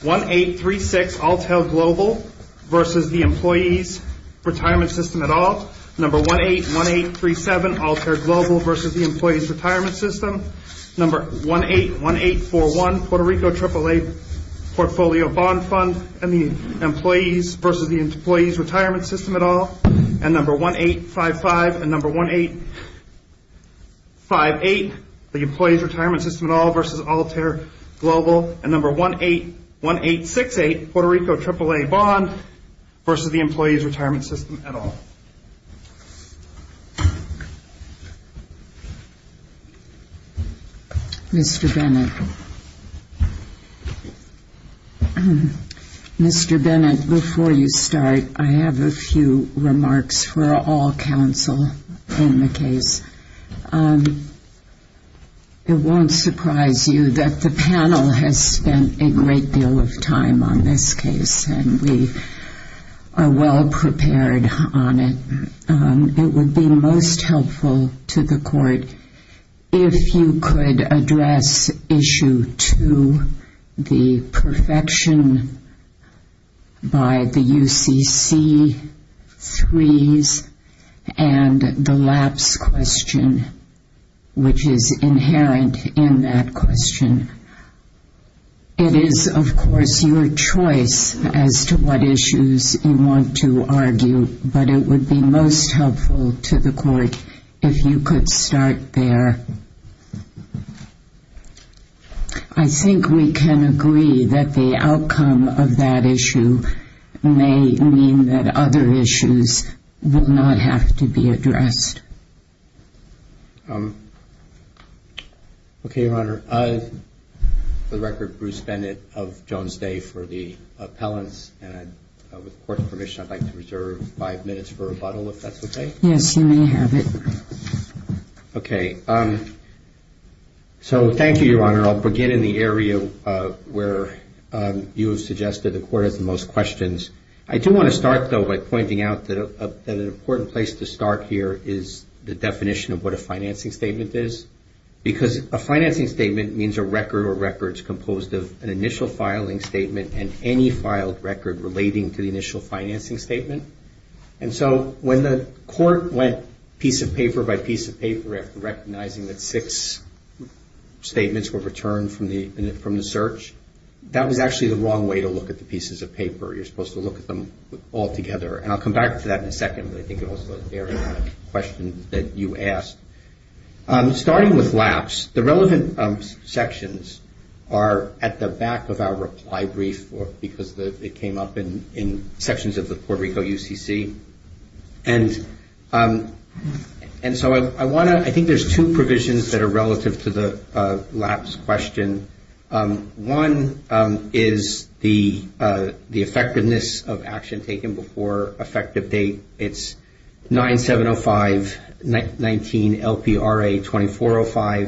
1-818-366-ALTAIR-GLOBAL v. Employees Retirement System 1-818-376-ALTAIR-GLOBAL v. Employees Retirement System 1-818-411-Puerto Rico AAA Portfolio Bond Fund Employees v. Employees Retirement System 1-855-1858-EMPLOYEES-RETIREMENT-SYSTEM 1-818-1868-Puerto Rico AAA Portfolio Bond Fund Employees Retirement System Mr. Bennett, before you start, I have a few remarks for all counsel on the case. It won't surprise you that the panel has spent a great deal of time on this case, and we are well prepared on it. It would be most helpful to the Court if you could address Issue 2, the perfection by the UCC freeze and the lapse question, which is inherent in that question. It is, of course, your choice as to what issues you want to argue, but it would be most helpful to the Court if you could start there. I think we can agree that the outcome of that issue may mean that other issues will not have to be addressed. Okay, Your Honor. For the record, Bruce Bennett of Jones Day for the appellants, and with Court's permission, I'd like to reserve five minutes for rebuttal, if that's okay. Yes, you may have it. Okay. So, thank you, Your Honor. I'll begin in the area where you have suggested the Court has the most questions. I do want to start, though, by pointing out that an important place to start here is the definition of what a financing statement is, because a financing statement means a record or records composed of an initial filing statement and any filed record relating to the initial financing statement. And so, when the Court went piece of paper by piece of paper recognizing that six statements were returned from the search, that was actually the wrong way to look at the pieces of paper. You're supposed to look at them all together. And I'll come back to that in a second, but I think it also bears in mind the question that you asked. Starting with lapse, the relevant sections are at the back of our reply brief because it came up in sections of the Puerto Rico UCC. And so, I think there's two provisions that are relative to the lapse question. One is the effectiveness of action taken before effective date. It's 9705-19-LPRA-2405.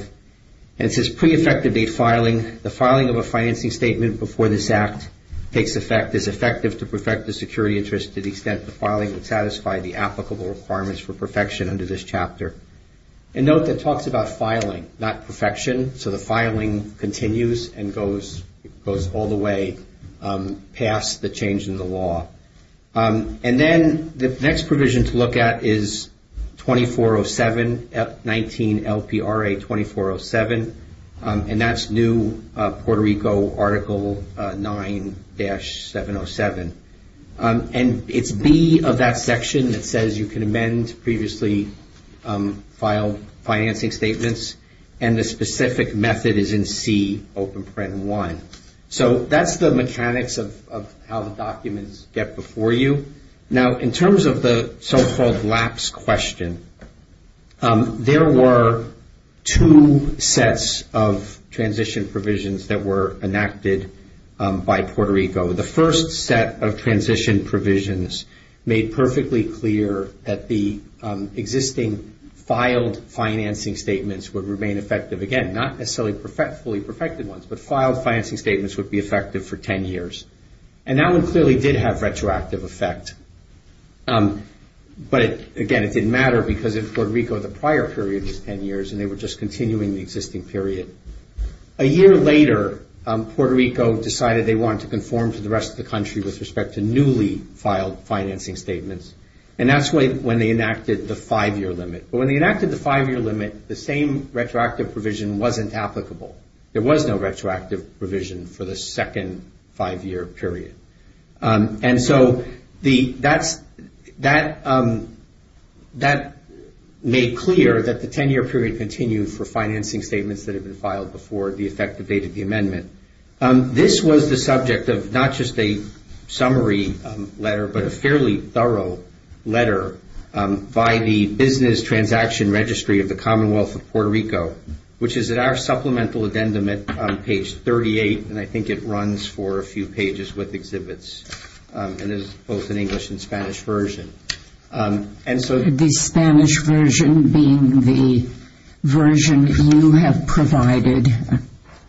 And it says, pre-effective date filing, the filing of a financing statement before this Act takes effect is effective to perfect the security interest to the extent the filing would satisfy the applicable requirements for perfection under this chapter. And note that it talks about filing, not perfection. So, the filing continues and goes all the way past the change in the law. And then, the next provision to look at is 2407-19-LPRA-2407. And that's new Puerto Rico Article 9-707. And it's B of that section that says you can amend previously filed financing statements. And the specific method is in C, Open Print 1. So, that's the mechanics of how the documents get before you. Now, in terms of the so-called lapse question, there were two sets of transition provisions that were enacted by Puerto Rico. The first set of transition provisions made perfectly clear that the existing filed financing statements would remain effective. Again, not necessarily fully perfected ones, but filed financing statements would be effective for 10 years. And that one clearly did have retroactive effect. But, again, it didn't matter because in Puerto Rico, the prior period was 10 years and they were just continuing the existing period. A year later, Puerto Rico decided they wanted to conform to the rest of the country with respect to newly filed financing statements. And that's when they enacted the five-year limit. But when they enacted the five-year limit, the same retroactive provision wasn't applicable. There was no retroactive provision for the second five-year period. And so, that made clear that the 10-year period continued for financing statements that had been filed before the effective date of the amendment. This was the subject of not just a summary letter, but a fairly thorough letter by the Business Transaction Registry of the Commonwealth of Puerto Rico, which is at our supplemental addendum at page 38, and I think it runs for a few pages with exhibits. And it's both in English and Spanish version. The Spanish version being the version you have provided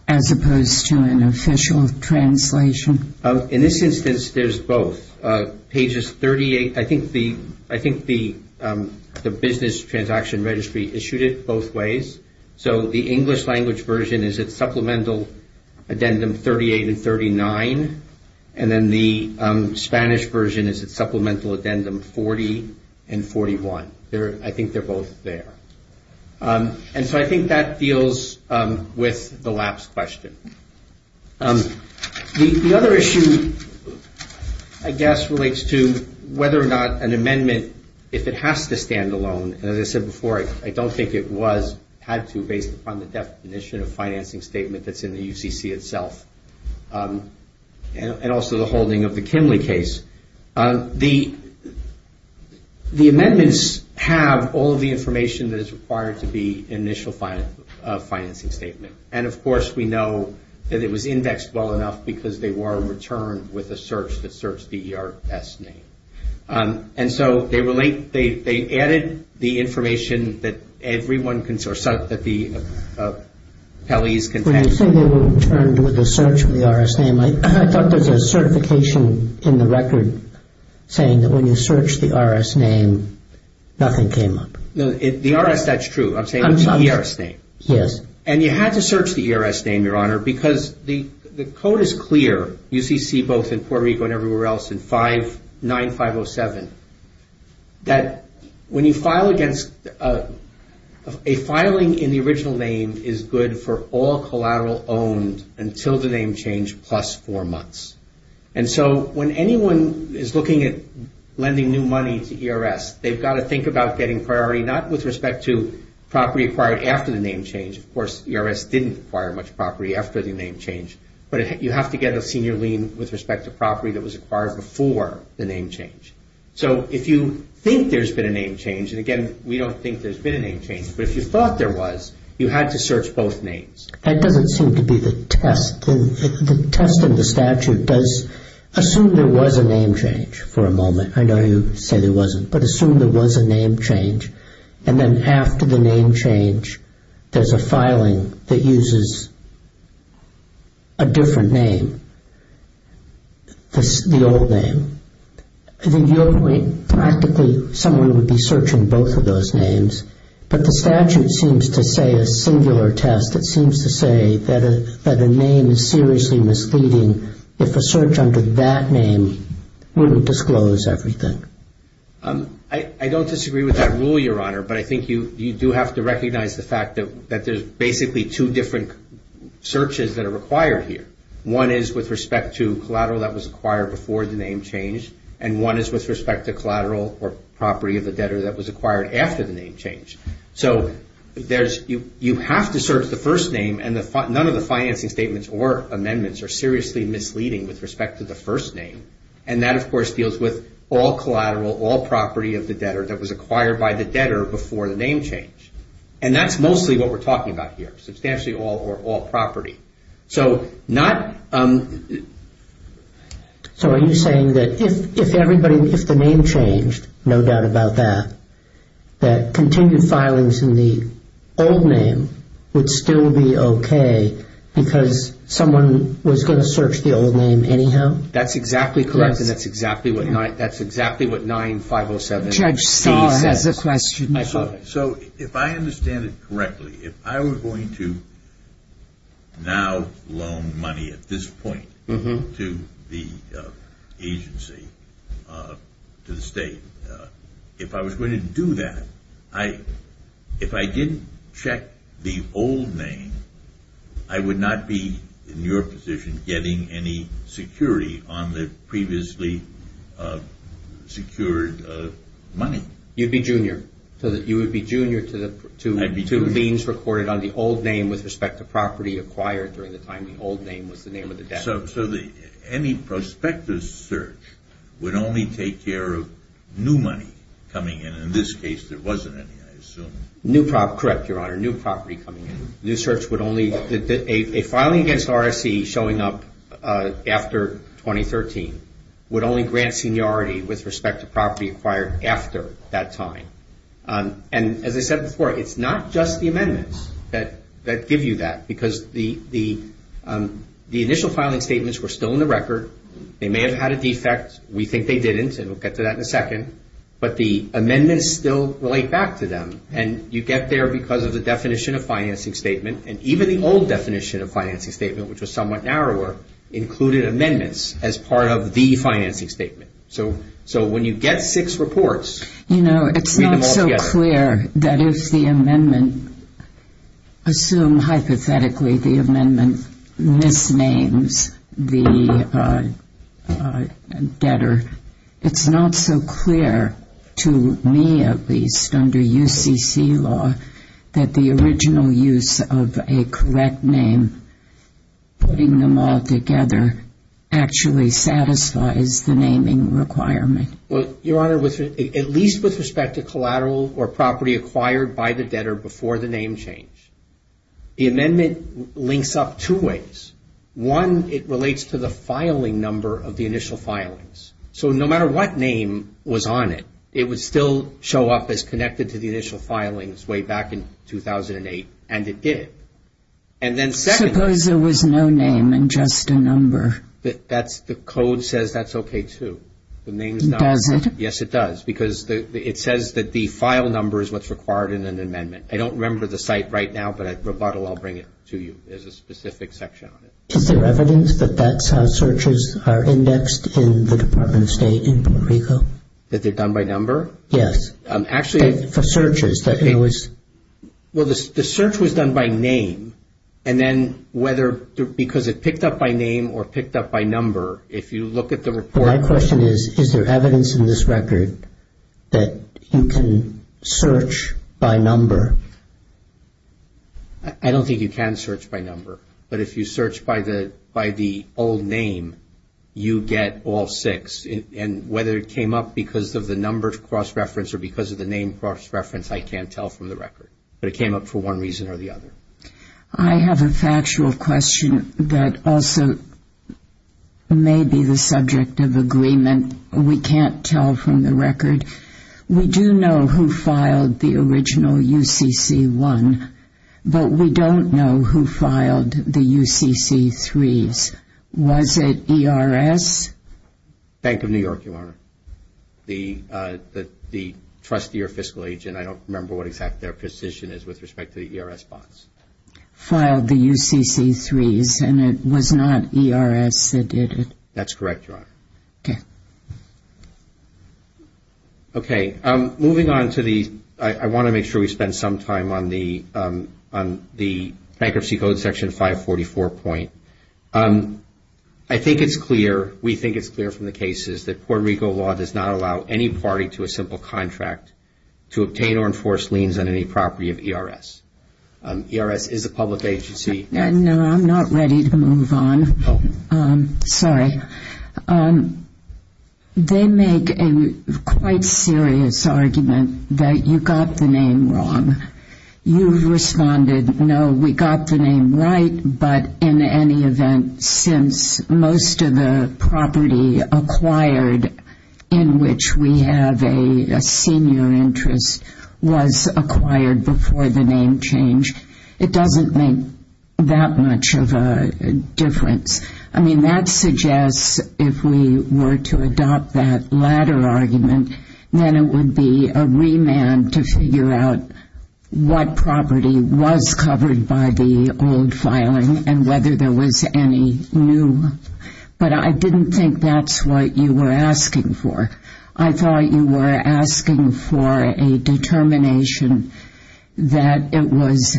as opposed to an official translation. In this instance, there's both. So, pages 38, I think the Business Transaction Registry issued it both ways. So, the English language version is at supplemental addendum 38 and 39. And then the Spanish version is at supplemental addendum 40 and 41. I think they're both there. And so, I think that deals with the last question. The other issue, I guess, relates to whether or not an amendment, if it has to stand alone, and as I said before, I don't think it was had to based upon the definition of financing statement that's in the UCC itself. And also the holding of the Kinley case. The amendments have all the information that is required to be an initial financing statement. And, of course, we know that it was indexed well enough because they were returned with a search that searched the ERS name. And so, they added the information that everyone can sort of, that the attendees can take. When you say they were returned with a search of the ERS name, I thought there was a certification in the record saying that when you search the ERS name, nothing came up. No, the ERS, that's true. I'm talking about the ERS name. Yes. And you had to search the ERS name, Your Honor, because the code is clear, UCC both in Puerto Rico and everywhere else in 59507, that when you file against, a filing in the original name is good for all collateral owned until the name change plus four months. And so, when anyone is looking at lending new money to ERS, they've got to think about getting priority, not with respect to property acquired after the name change. Of course, ERS didn't acquire much property after the name change, but you have to get a senior lien with respect to property that was acquired before the name change. So, if you think there's been a name change, and again, we don't think there's been a name change, but if you thought there was, you had to search both names. That doesn't seem to be the test. The test in the statute does assume there was a name change for a moment. I know you say there wasn't, but assume there was a name change, and then after the name change, there's a filing that uses a different name, the old name. At the end of the day, practically someone would be searching both of those names, but the statute seems to say a singular test that seems to say that a name is seriously misleading if the search under that name wouldn't disclose everything. I don't disagree with that rule, Your Honor, but I think you do have to recognize the fact that there's basically two different searches that are required here. One is with respect to collateral that was acquired before the name change, and one is with respect to collateral or property of the debtor that was acquired after the name change. So, you have to search the first name, and none of the financing statements or amendments are seriously misleading with respect to the first name, and that, of course, deals with all collateral, all property of the debtor that was acquired by the debtor before the name change. And that's mostly what we're talking about here, substantially all or all property. So, not... So, are you saying that if everybody, if the name changed, no doubt about that, that continued filings in the old name would still be okay because someone was going to search the old name anyhow? That's exactly correct, and that's exactly what 9507... Judge Stahl has a question. So, if I understand it correctly, if I were going to now loan money at this point to the agency, to the state, if I was going to do that, if I didn't check the old name, I would not be in your position getting any security on the previously secured money. You'd be junior. So, you would be junior to the two names recorded on the old name with respect to property acquired during the time the old name was the name of the debtor. So, any prospective search would only take care of new money coming in. In this case, there wasn't any, I assume. Correct, Your Honor, new property coming in. This search would only... A filing against RSE showing up after 2013 would only grant seniority with respect to property acquired after that time. And as I said before, it's not just the amendments that give you that because the initial filing statements were still in the record. They may have had a defect. We think they didn't, and we'll get to that in a second. But the amendments still relate back to them. And you get there because of the definition of financing statement. And even the old definition of financing statement, which was somewhat narrower, included amendments as part of the financing statement. So, when you get six reports... You know, it's not so clear that if the amendment, assume hypothetically the amendment misnames the debtor, it's not so clear to me at least under UCC law that the original use of a correct name, putting them all together, actually satisfies the naming requirement. Well, Your Honor, at least with respect to collateral or property acquired by the debtor before the name change, the amendment links up two ways. One, it relates to the filing number of the initial filings. So, no matter what name was on it, it would still show up as connected to the initial filings way back in 2008, and it did. And then second... Suppose there was no name and just a number. The code says that's okay, too. The name is not... Yes, it does. Because it says that the file number is what's required in an amendment. I don't remember the site right now, but I'll bring it to you. There's a specific section on it. Is there evidence that that searches are indexed in the Department of State? That they're done by number? Yes. Actually... For searches. Well, the search was done by name. And then whether because it picked up by name or picked up by number, if you look at the report... My question is, is there evidence in this record that you can search by number? I don't think you can search by number. But if you search by the old name, you get all six. And whether it came up because of the number cross-reference or because of the name cross-reference, I can't tell from the record. But it came up for one reason or the other. I have a factual question that also may be the subject of agreement. We can't tell from the record. We do know who filed the original UCC-1, but we don't know who filed the UCC-3s. Was it ERS? Bank of New York, Your Honor. The trustee or fiscal agent. I don't remember what, in fact, their position is with respect to the ERS box. Filed the UCC-3s, and it was not ERS that did it. That's correct, Your Honor. Okay. Okay. Moving on to the... I want to make sure we spend some time on the bankruptcy code section 544 point. I think it's clear, we think it's clear from the cases, that Puerto Rico law does not allow any party to a simple contract to obtain or enforce liens on any property of ERS. ERS is a public agency. No, I'm not ready to move on. Sorry. They make a quite serious argument that you got the name wrong. You responded, no, we got the name right, but in any event since most of the property acquired in which we have a senior interest was acquired before the name change. It doesn't make that much of a difference. I mean, that suggests if we were to adopt that latter argument, then it would be a remand to figure out what property was covered by the old filing and whether there was any new. But I didn't think that's what you were asking for. I thought you were asking for a determination that it was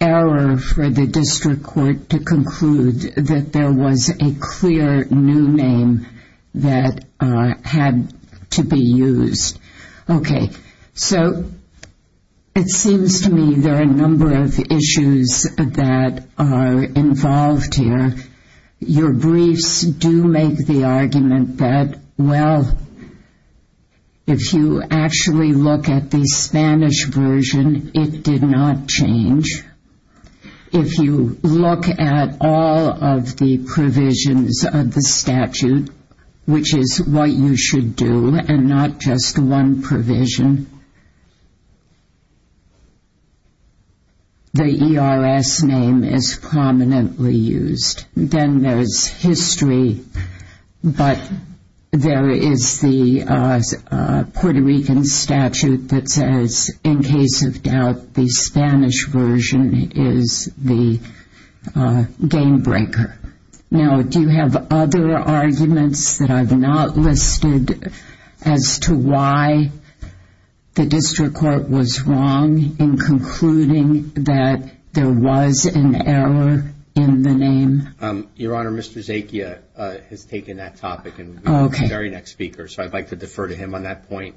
error for the district court to conclude that there was a clear new name that had to be used. Okay. So it seems to me there are a number of issues that are involved here. Your briefs do make the argument that, well, if you actually look at the Spanish version, it did not change. If you look at all of the provisions of the statute, which is what you should do and not just one provision, the ERS name is prominently used. Then there is history, but there is the Puerto Rican statute that says, in case of doubt, the Spanish version is the game breaker. Now, do you have other arguments that I've not listed as to why the district court was wrong in concluding that there was an error in the name? Your Honor, Mr. Zakia has taken that topic and is the very next speaker, so I'd like to defer to him on that point.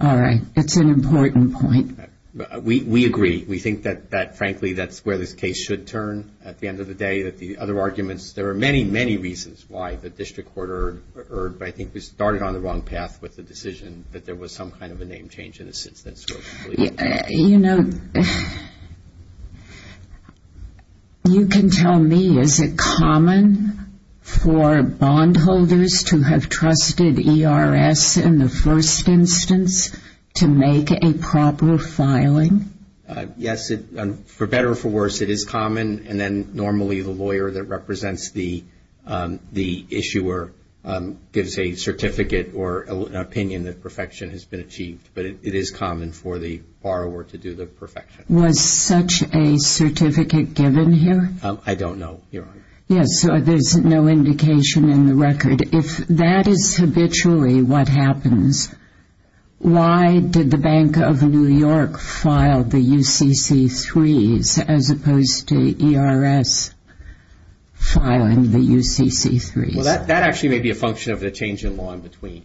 All right. That's an important point. We agree. We think that, frankly, that's where this case should turn at the end of the day, that the other arguments, there are many, many reasons why the district court erred, but I think we started on the wrong path with the decision that there was some kind of a name change in the system. You know, you can tell me, is it common for bondholders to have trusted ERS in the first instance to make a proper filing? Yes, for better or for worse, it is common, and then normally the lawyer that represents the issuer gives a certificate or an opinion that perfection has been achieved, but it is common for the borrower to do the perfection. Was such a certificate given here? I don't know, Your Honor. Yes, so there's no indication in the record. If that is habitually what happens, why did the Bank of New York file the UCC-3s as opposed to ERS filing the UCC-3s? Well, that actually may be a function of the change in law in between.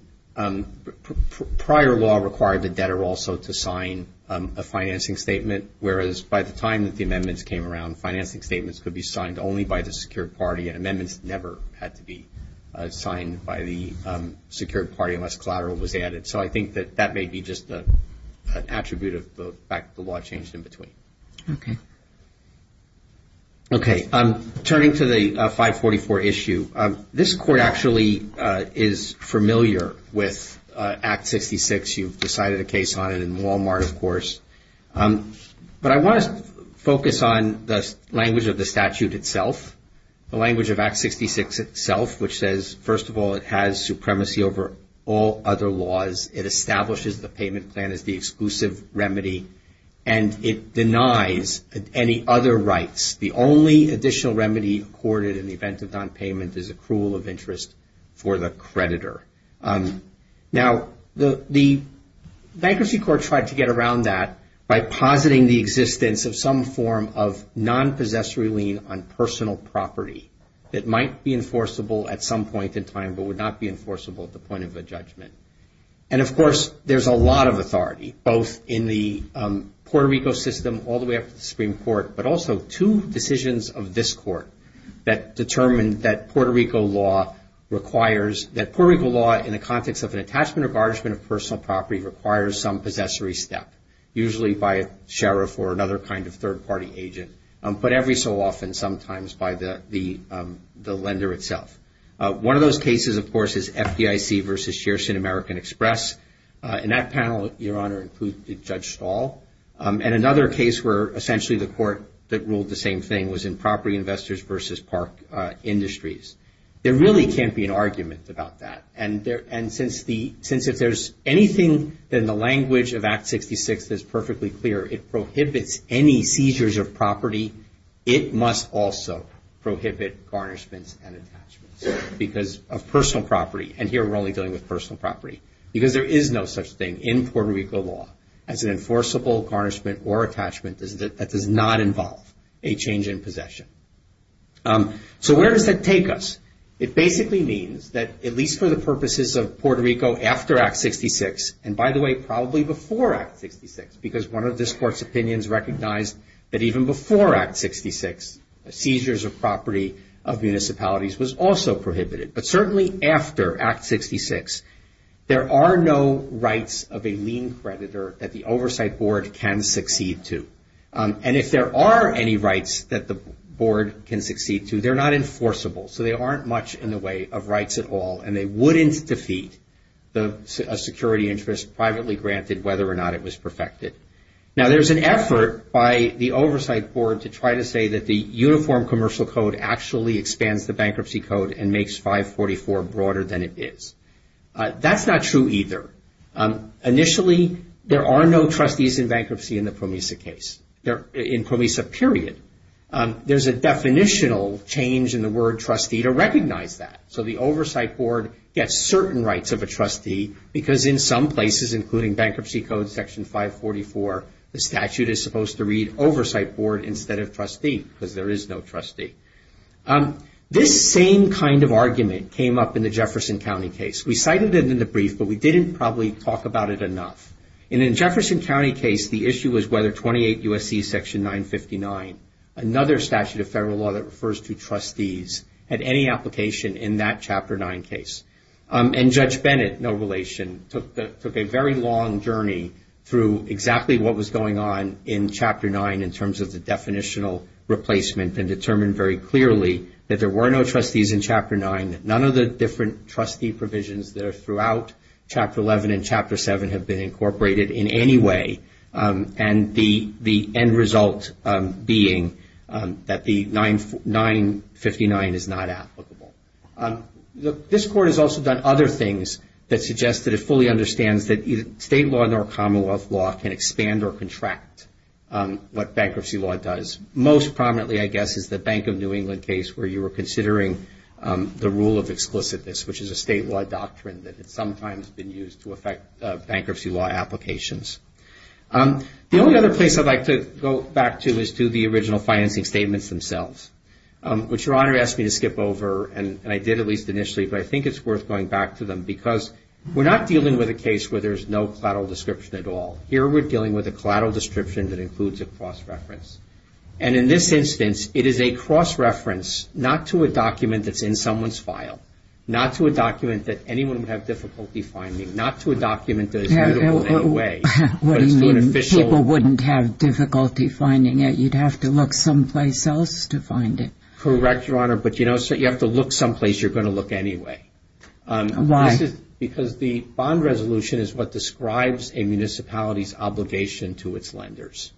Prior law required the debtor also to sign a financing statement, whereas by the time the amendments came around, financing statements could be signed only by the secured party, and amendments never had to be signed by the secured party unless collateral was added, so I think that that may be just an attribute of the fact that the law changed in between. Okay. Okay, turning to the 544 issue, this Court actually is familiar with Act 66. You've decided a case on it in Walmart, of course, but I want to focus on the language of the statute itself, the language of Act 66 itself, which says, first of all, it has supremacy over all other laws. It establishes the payment plan as the exclusive remedy, and it denies any other rights. The only additional remedy accorded in the event of nonpayment is accrual of interest for the creditor. Now, the Dignity Court tried to get around that by positing the existence of some form of nonpossessory lien on personal property that might be enforceable at some point in time but would not be enforceable at the point of a judgment. And, of course, there's a lot of authority, both in the Puerto Rico system all the way up to the Supreme Court, but also two decisions of this Court that determined that Puerto Rico law requires that Puerto Rico law, in the context of an attachment or garnishment of personal property, requires some possessory step, usually by a sheriff or another kind of third-party agent, but every so often sometimes by the lender itself. One of those cases, of course, is FDIC v. Shearson American Express. In that panel, Your Honor, it includes Judge Stahl. And another case where essentially the Court that ruled the same thing was in Property Investors v. Park Industries. There really can't be an argument about that. And since if there's anything in the language of Act 66 that's perfectly clear, it prohibits any seizures of property, it must also prohibit garnishments and attachments because of personal property. And here we're only dealing with personal property because there is no such thing in Puerto Rico law as an enforceable garnishment or attachment that does not involve a change in possession. So where does that take us? It basically means that, at least for the purposes of Puerto Rico after Act 66, and by the way, probably before Act 66, because one of this Court's opinions recognized that even before Act 66, seizures of property of municipalities was also prohibited. But certainly after Act 66, there are no rights of a lien creditor that the Oversight Board can succeed to. And if there are any rights that the Board can succeed to, they're not enforceable. So they aren't much in the way of rights at all, and they wouldn't defeat a security interest privately granted whether or not it was perfected. Now, there's an effort by the Oversight Board to try to say that the Uniform Commercial Code actually expands the Bankruptcy Code and makes 544 broader than it is. That's not true either. Initially, there are no trustees in bankruptcy in the PROMESA case, in PROMESA period. There's a definitional change in the word trustee to recognize that. So the Oversight Board gets certain rights of a trustee because in some places, including Bankruptcy Code Section 544, the statute is supposed to read Oversight Board instead of trustee because there is no trustee. This same kind of argument came up in the Jefferson County case. We cited it in the brief, but we didn't probably talk about it enough. And in the Jefferson County case, the issue was whether 28 U.S.C. Section 959, another statute of federal law that refers to trustees, had any application in that Chapter 9 case. And Judge Bennett, no relation, took a very long journey through exactly what was going on in Chapter 9 in terms of the definitional replacement and determined very clearly that there were no trustees in Chapter 9, that none of the different trustee provisions that are throughout Chapter 11 and Chapter 7 have been incorporated in any way, and the end result being that the 959 is not applicable. This Court has also done other things that suggest that it fully understands that either state law nor commonwealth law can expand or contract what bankruptcy law does. Most prominently, I guess, is the Bank of New England case where you were considering the rule of exclusiveness, which is a statewide doctrine that has sometimes been used to affect bankruptcy law applications. The only other place I'd like to go back to is to the original financing statements themselves, which Your Honor asked me to skip over, and I did at least initially, but I think it's worth going back to them because we're not dealing with a case where there's no collateral description at all. Here we're dealing with a collateral description that includes a cross-reference. And in this instance, it is a cross-reference not to a document that's in someone's file, not to a document that anyone would have difficulty finding, not to a document that is readable in a way. People wouldn't have difficulty finding it. You'd have to look someplace else to find it. Correct, Your Honor, but you have to look someplace you're going to look anyway. Why? Because the bond resolution is what describes a municipality's obligation to its lenders.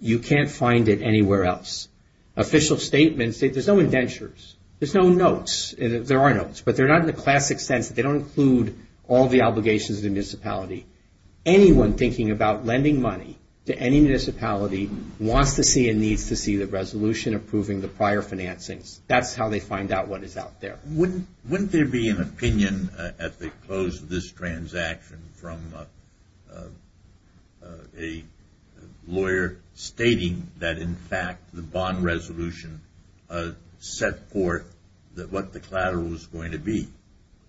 You can't find it anywhere else. Official statements, there's no indentures. There's no notes. There are notes, but they're not in the classic sense. They don't include all the obligations of the municipality. Anyone thinking about lending money to any municipality wants to see and needs to see the resolution approving the prior financing. That's how they find out what is out there. Wouldn't there be an opinion as they close this transaction from a lawyer stating that, in fact, the bond resolution set forth what the collateral was going to be?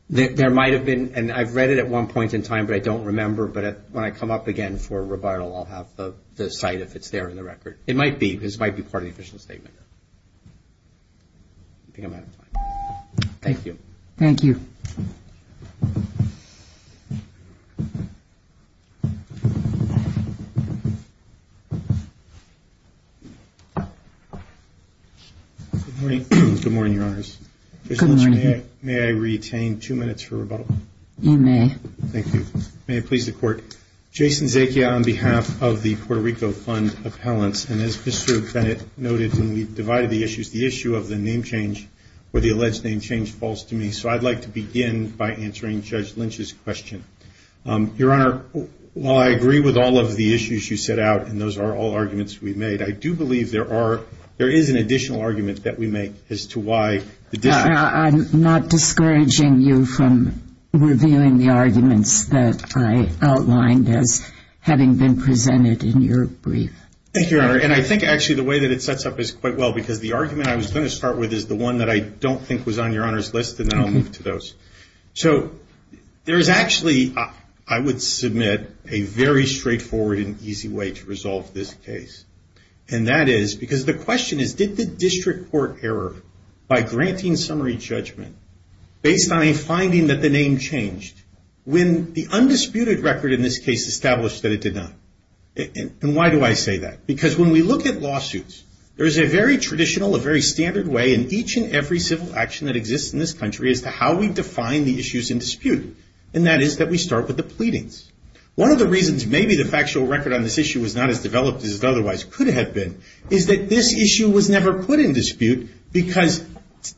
There might have been, and I read it at one point in time, but I don't remember, but when I come up again for a rebuttal, I'll have the site if it's there in the record. It might be. This might be part of the official statement. Thank you. Thank you. Good morning, Your Honor. Good morning. May I retain two minutes for rebuttal? You may. Thank you. May it please the Court. Jason Zacchia on behalf of the Puerto Rico Fund Appellants, and as Mr. Bennett noted when we divided the issues, the issue of the name change or the alleged name change falls to me, so I'd like to begin by answering Judge Lynch's question. Your Honor, while I agree with all of the issues you set out, and those are all arguments we've made, I do believe there is an additional argument that we make as to why the difference. I'm not discouraging you from revealing the arguments that I outlined as having been presented in your brief. Thank you, Your Honor. And I think actually the way that it sets up is quite well, because the argument I was going to start with is the one that I don't think was on Your Honor's list, and now I'll move to those. So there is actually, I would submit, a very straightforward and easy way to resolve this case, and that is because the question is did the district court error by granting summary judgment based on a finding that the name changed when the undisputed record in this case established that it did not? And why do I say that? Because when we look at lawsuits, there is a very traditional, a very standard way in each and every civil action that exists in this country as to how we define the issues in dispute, and that is that we start with the pleadings. One of the reasons maybe the factual record on this issue was not as developed as it otherwise could have been is that this issue was never put in dispute because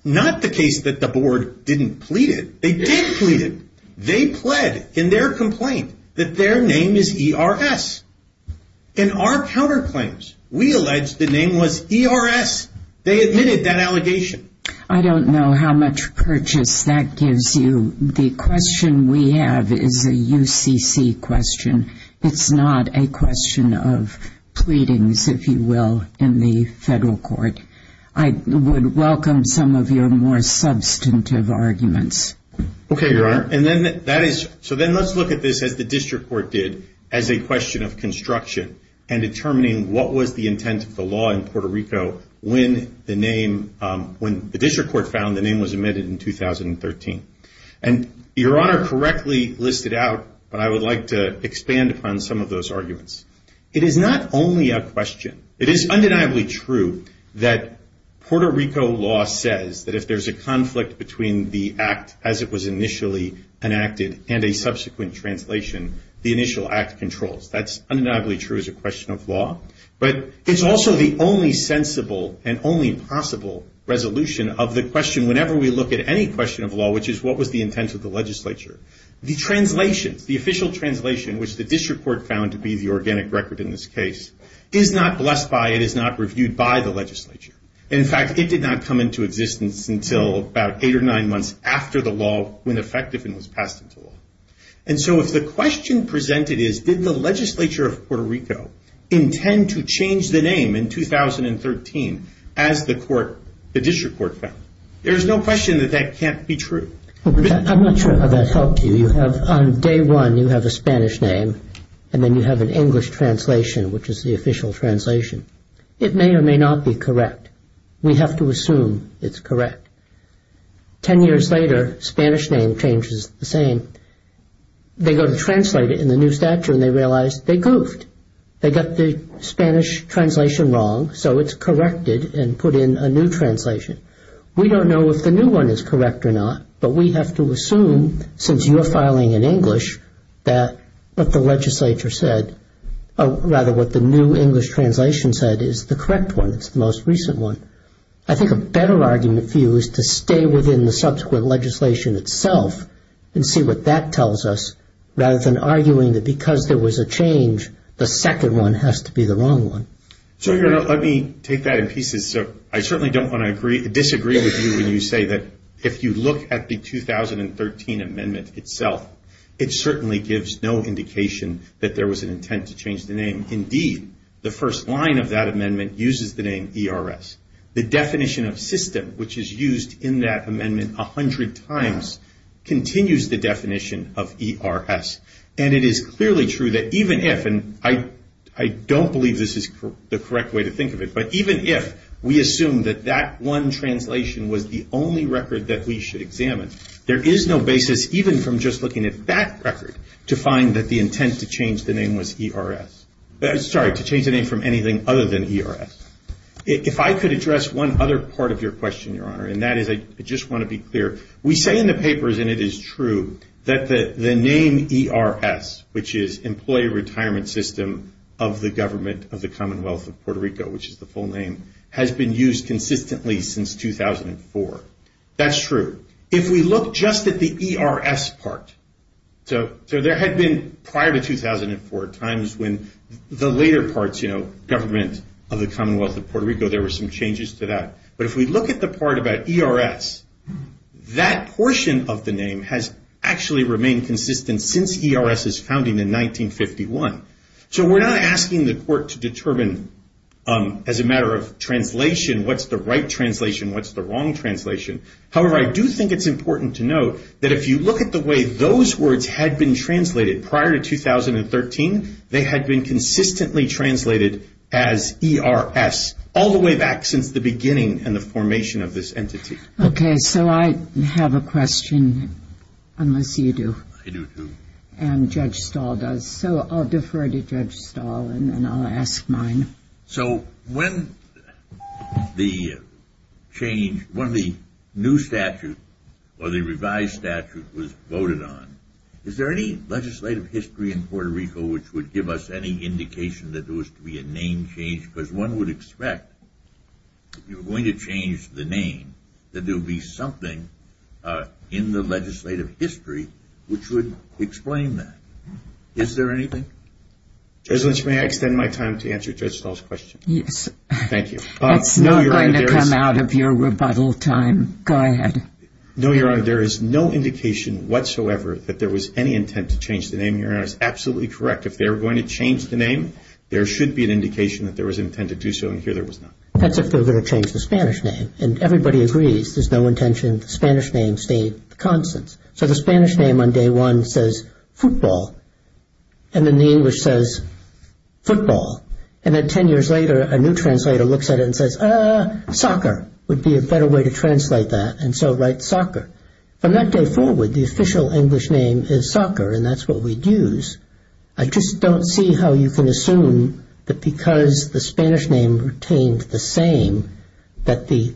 not the case that the board didn't plead it. They did plead it. They pled in their complaint that their name is ERS. In our counterclaims, we alleged the name was ERS. They admitted that allegation. I don't know how much purchase that gives you. The question we have is a UCC question. It's not a question of pleadings, if you will, in the federal court. I would welcome some of your more substantive arguments. Okay, Your Honor. So then let's look at this as the district court did as a question of construction and determining what was the intent of the law in Puerto Rico when the name, when the district court found the name was admitted in 2013. And Your Honor correctly listed out what I would like to expand upon some of those arguments. It is not only a question. It is undeniably true that Puerto Rico law says that if there's a conflict between the act as it was initially enacted and a subsequent translation, the initial act controls. That's undeniably true as a question of law. But it's also the only sensible and only possible resolution of the question whenever we look at any question of law, which is what was the intent of the legislature. The translation, the official translation, which the district court found to be the organic record in this case, is not blessed by, it is not reviewed by the legislature. In fact, it did not come into existence until about eight or nine months after the law went effective and was passed into law. And so if the question presented is did the legislature of Puerto Rico intend to change the name in 2013 as the court, the district court found, there's no question that that can't be true. I'm not sure if I'm going to talk to you. On day one you have a Spanish name and then you have an English translation, which is the official translation. It may or may not be correct. We have to assume it's correct. Ten years later, Spanish name changes the same. They go to translate it in the new stature and they realize they goofed. They got the Spanish translation wrong, so it's corrected and put in a new translation. We don't know if the new one is correct or not, but we have to assume since you're filing in English that what the legislature said, or rather what the new English translation said is the correct one, the most recent one. I think a better argument for you is to stay within the subsequent legislation itself and see what that tells us rather than arguing that because there was a change, the second one has to be the wrong one. So let me take that in pieces. I certainly don't want to disagree with you when you say that if you look at the 2013 amendment itself, it certainly gives no indication that there was an intent to change the name. Indeed, the first line of that amendment uses the name ERS. The definition of system, which is used in that amendment 100 times, continues the definition of ERS. And it is clearly true that even if, and I don't believe this is the correct way to think of it, but even if we assume that that one translation was the only record that we should examine, there is no basis even from just looking at that record to find that the intent to change the name was ERS. Sorry, to change the name from anything other than ERS. If I could address one other part of your question, Your Honor, and that is I just want to be clear. We say in the papers, and it is true, that the name ERS, which is Employee Retirement System of the Government of the Commonwealth of Puerto Rico, which is the full name, has been used consistently since 2004. That's true. If we look just at the ERS part, so there had been prior to 2004 times when the later parts, you know, Government of the Commonwealth of Puerto Rico, there were some changes to that. But if we look at the part about ERS, that portion of the name has actually remained consistent since ERS's founding in 1951. So we're not asking the court to determine as a matter of translation what's the right translation, what's the wrong translation. However, I do think it's important to note that if you look at the way those words had been translated prior to 2013, they had been consistently translated as ERS all the way back since the beginning and the formation of this entity. Okay. So I have a question, unless you do. I do too. And Judge Stahl does. So I'll defer to Judge Stahl and then I'll ask mine. So when the change, when the new statute or the revised statute was voted on, is there any legislative history in Puerto Rico which would give us any indication that there was to be a name change? Because one would expect, if you were going to change the name, that there would be something in the legislative history which would explain that. Is there anything? Judge Lynch, may I extend my time to answer Judge Stahl's question? Yes. Thank you. It's not going to come out of your rebuttal time. Go ahead. No, Your Honor. There is no indication whatsoever that there was any intent to change the name. Your Honor is absolutely correct. If they were going to change the name, there should be an indication that there was an intent to do so, and here there was not. That's if they were going to change the Spanish name. And everybody agrees there's no intention the Spanish name stayed constant. So the Spanish name on day one says football, and then the English says football, and then ten years later a new translator looks at it and says, ah, soccer, would be a better way to translate that, and so write soccer. From that day forward, the official English name is soccer, and that's what we'd use. I just don't see how you can assume that because the Spanish name retained the same, that the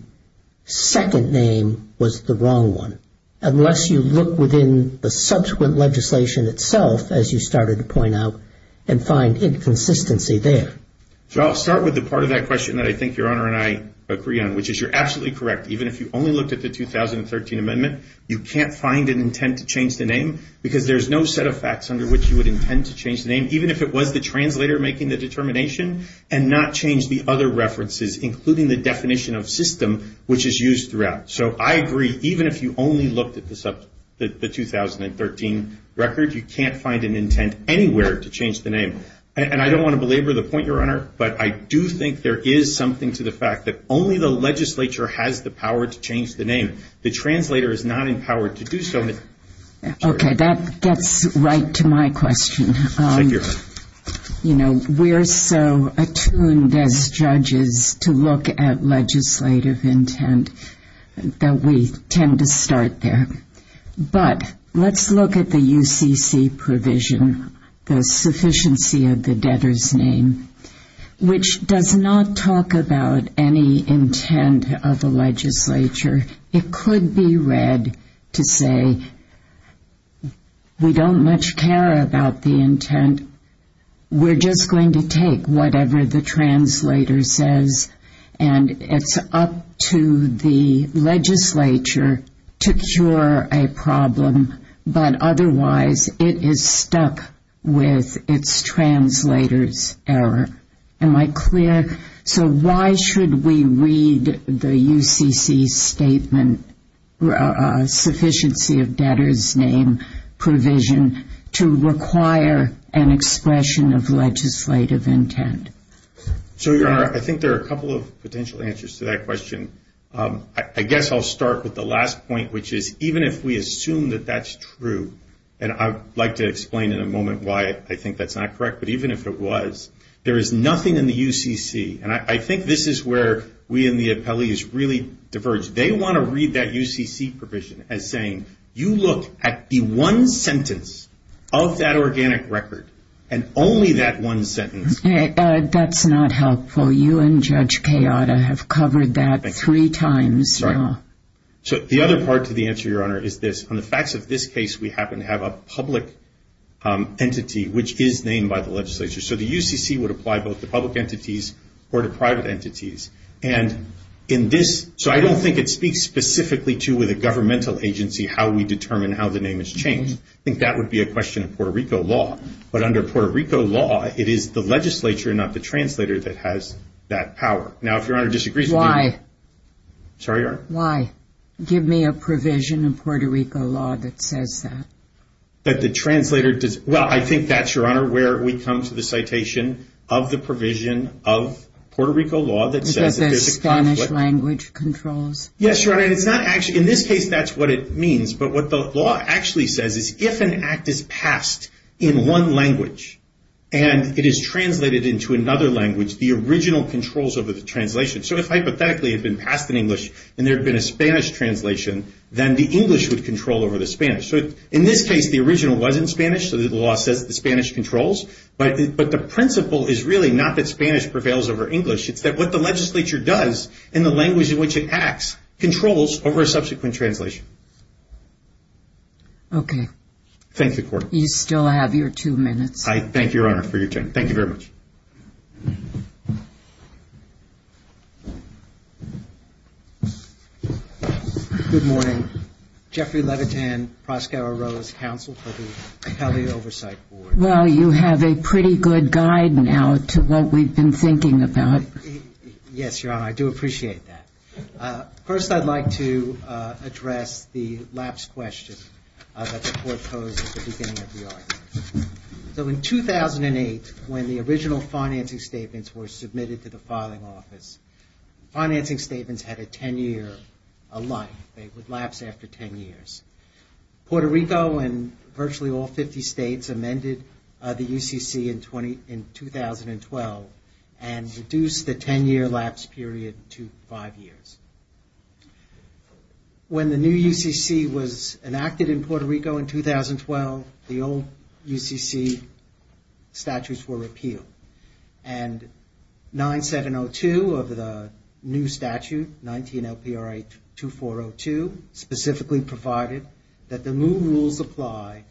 second name was the wrong one, unless you look within the subsequent legislation itself, as you started to point out, and find inconsistency there. So I'll start with the part of that question that I think Your Honor and I agree on, which is you're absolutely correct. Even if you only looked at the 2013 amendment, you can't find an intent to change the name because there's no set of facts under which you would intend to change the name, even if it was the translator making the determination, and not change the other references, including the definition of system, which is used throughout. So I agree, even if you only looked at the 2013 record, you can't find an intent anywhere to change the name. And I don't want to belabor the point, Your Honor, but I do think there is something to the fact that only the legislature has the power to change the name. The translator is not empowered to do so. Okay, that's right to my question. Thank you, Your Honor. You know, we're so attuned as judges to look at legislative intent that we tend to start there. But let's look at the UCC provision, the sufficiency of the debtor's name, which does not talk about any intent of the legislature. It could be read to say, we don't much care about the intent. We're just going to take whatever the translator says, and it's up to the legislature to cure a problem. But otherwise, it is stuck with its translator's error. Am I clear? So why should we read the UCC statement, sufficiency of debtor's name provision, to require an expression of legislative intent? So, Your Honor, I think there are a couple of potential answers to that question. I guess I'll start with the last point, which is even if we assume that that's true, and I'd like to explain in a moment why I think that's not correct, but even if it was, there is nothing in the UCC, and I think this is where we and the appellees really diverge. They want to read that UCC provision as saying, you look at the one sentence of that organic record, and only that one sentence. That's not helpful. You and Judge Kayata have covered that three times. So the other part to the answer, Your Honor, is this. On the facts of this case, we happen to have a public entity which is named by the legislature. So the UCC would apply both to public entities or to private entities. And in this, so I don't think it speaks specifically to the governmental agency, how we determine how the name is changed. I think that would be a question of Puerto Rico law. But under Puerto Rico law, it is the legislature, not the translator, that has that power. Now, if Your Honor disagrees with me. Why? Sorry, Your Honor? Why? Give me a provision in Puerto Rico law that says that. That the translator does. Well, I think that's, Your Honor, where we come to the citation of the provision of Puerto Rico law that says. That the Spanish language controls. Yes, Your Honor. It's not actually. In this case, that's what it means. But what the law actually says is if an act is passed in one language, and it is translated into another language, the original controls over the translation. So if hypothetically it had been passed in English, and there had been a Spanish translation, then the English would control over the Spanish. So in this case, the original wasn't Spanish. So the law said that the Spanish controls. But the principle is really not that Spanish prevails over English. It's that what the legislature does and the language in which it acts controls over a subsequent translation. Okay. Thank you, Court. You still have your two minutes. I thank Your Honor for your time. Thank you very much. Good morning. Jeffrey Levitin, Proskauer Rose Counsel for the Accounting Oversight Board. Well, you have a pretty good guide now to what we've been thinking about. Yes, Your Honor. I do appreciate that. First, I'd like to address the lapse question that the Court posed at the beginning of the argument. So in 2008, when the original financing statements were submitted to the filing office, financing statements had a 10-year life. They would lapse after 10 years. Puerto Rico and virtually all 50 states amended the UCC in 2012 and reduced the 10-year lapse period to five years. When the new UCC was enacted in Puerto Rico in 2012, the old UCC statutes were repealed. And 9702 of the new statute, 19 LPRA 2402, specifically provided that the new rules apply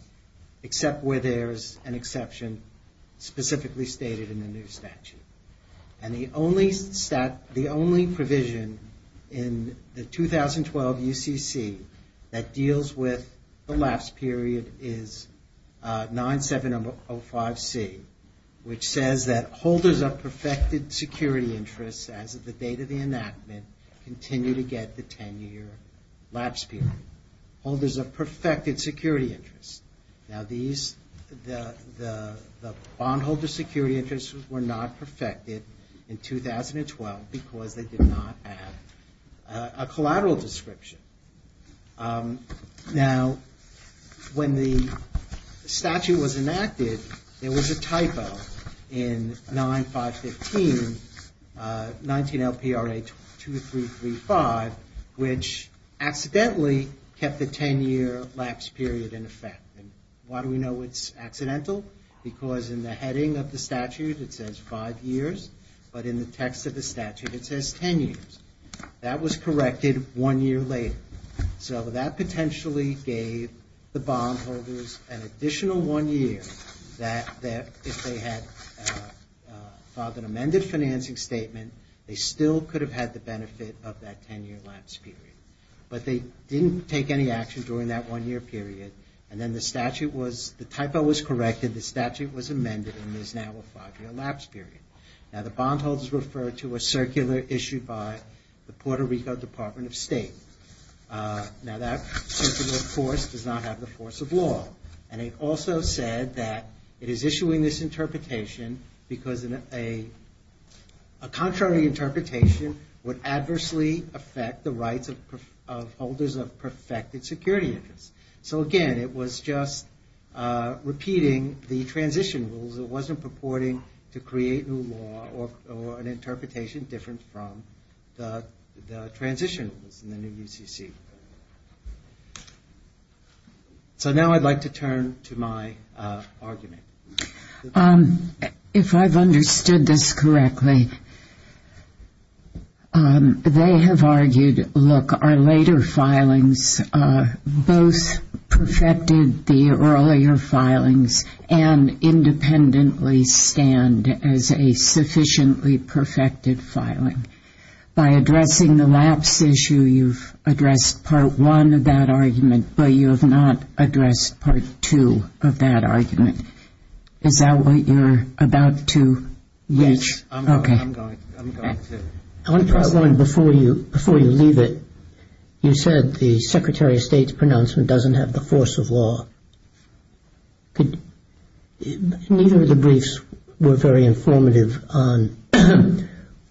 except where there's an exception specifically stated in the new statute. And the only provision in the 2012 UCC that deals with the lapse period is 9705C, which says that holders of perfected security interests as of the date of the enactment continue to get the 10-year lapse period. Holders of perfected security interests. Now these, the bondholder security interests were not perfected in 2012 because they did not have a collateral description. Now when the statute was enacted, there was a typo in 9515, 19 LPRA 2335, which accidentally kept the 10-year lapse period in effect. And why do we know it's accidental? Because in the heading of the statute it says five years, but in the text of the statute it says 10 years. That was corrected one year later. So that potentially gave the bondholders an additional one year that if they had filed an amended financing statement, they still could have had the benefit of that 10-year lapse period. But they didn't take any action during that one-year period, and then the statute was, the typo was corrected, the statute was amended, and there's now a five-year lapse period. Now the bondholders refer to a circular issued by the Puerto Rico Department of State. Now that circular, of course, does not have the force of law. And it also said that it is issuing this interpretation because a contrary interpretation would adversely affect the rights of holders of perfected security interests. So again, it was just repeating the transition rules. So it wasn't purporting to create new law or an interpretation different from the transition rules in the new DCC. So now I'd like to turn to my argument. If I've understood this correctly, they have argued, look, our later filings both perfected the earlier filings and independently stand as a sufficiently perfected filing. By addressing the last issue, you've addressed part one of that argument, but you have not addressed part two of that argument. Is that what you're about to? Yes. Okay. I'm going to. Before you leave it, you said the Secretary of State's pronouncement doesn't have the force of law. Neither of the briefs were very informative on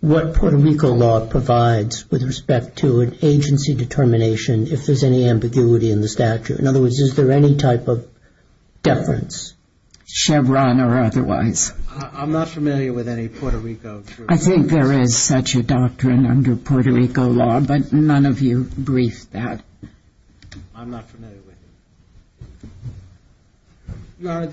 what Puerto Rico law provides with respect to an agency determination if there's any ambiguity in the statute. In other words, is there any type of deference? Chevron or otherwise. I'm not familiar with any Puerto Rico truth. I think there is such a doctrine under Puerto Rico law, but none of you briefed that. I'm not familiar with it. Now,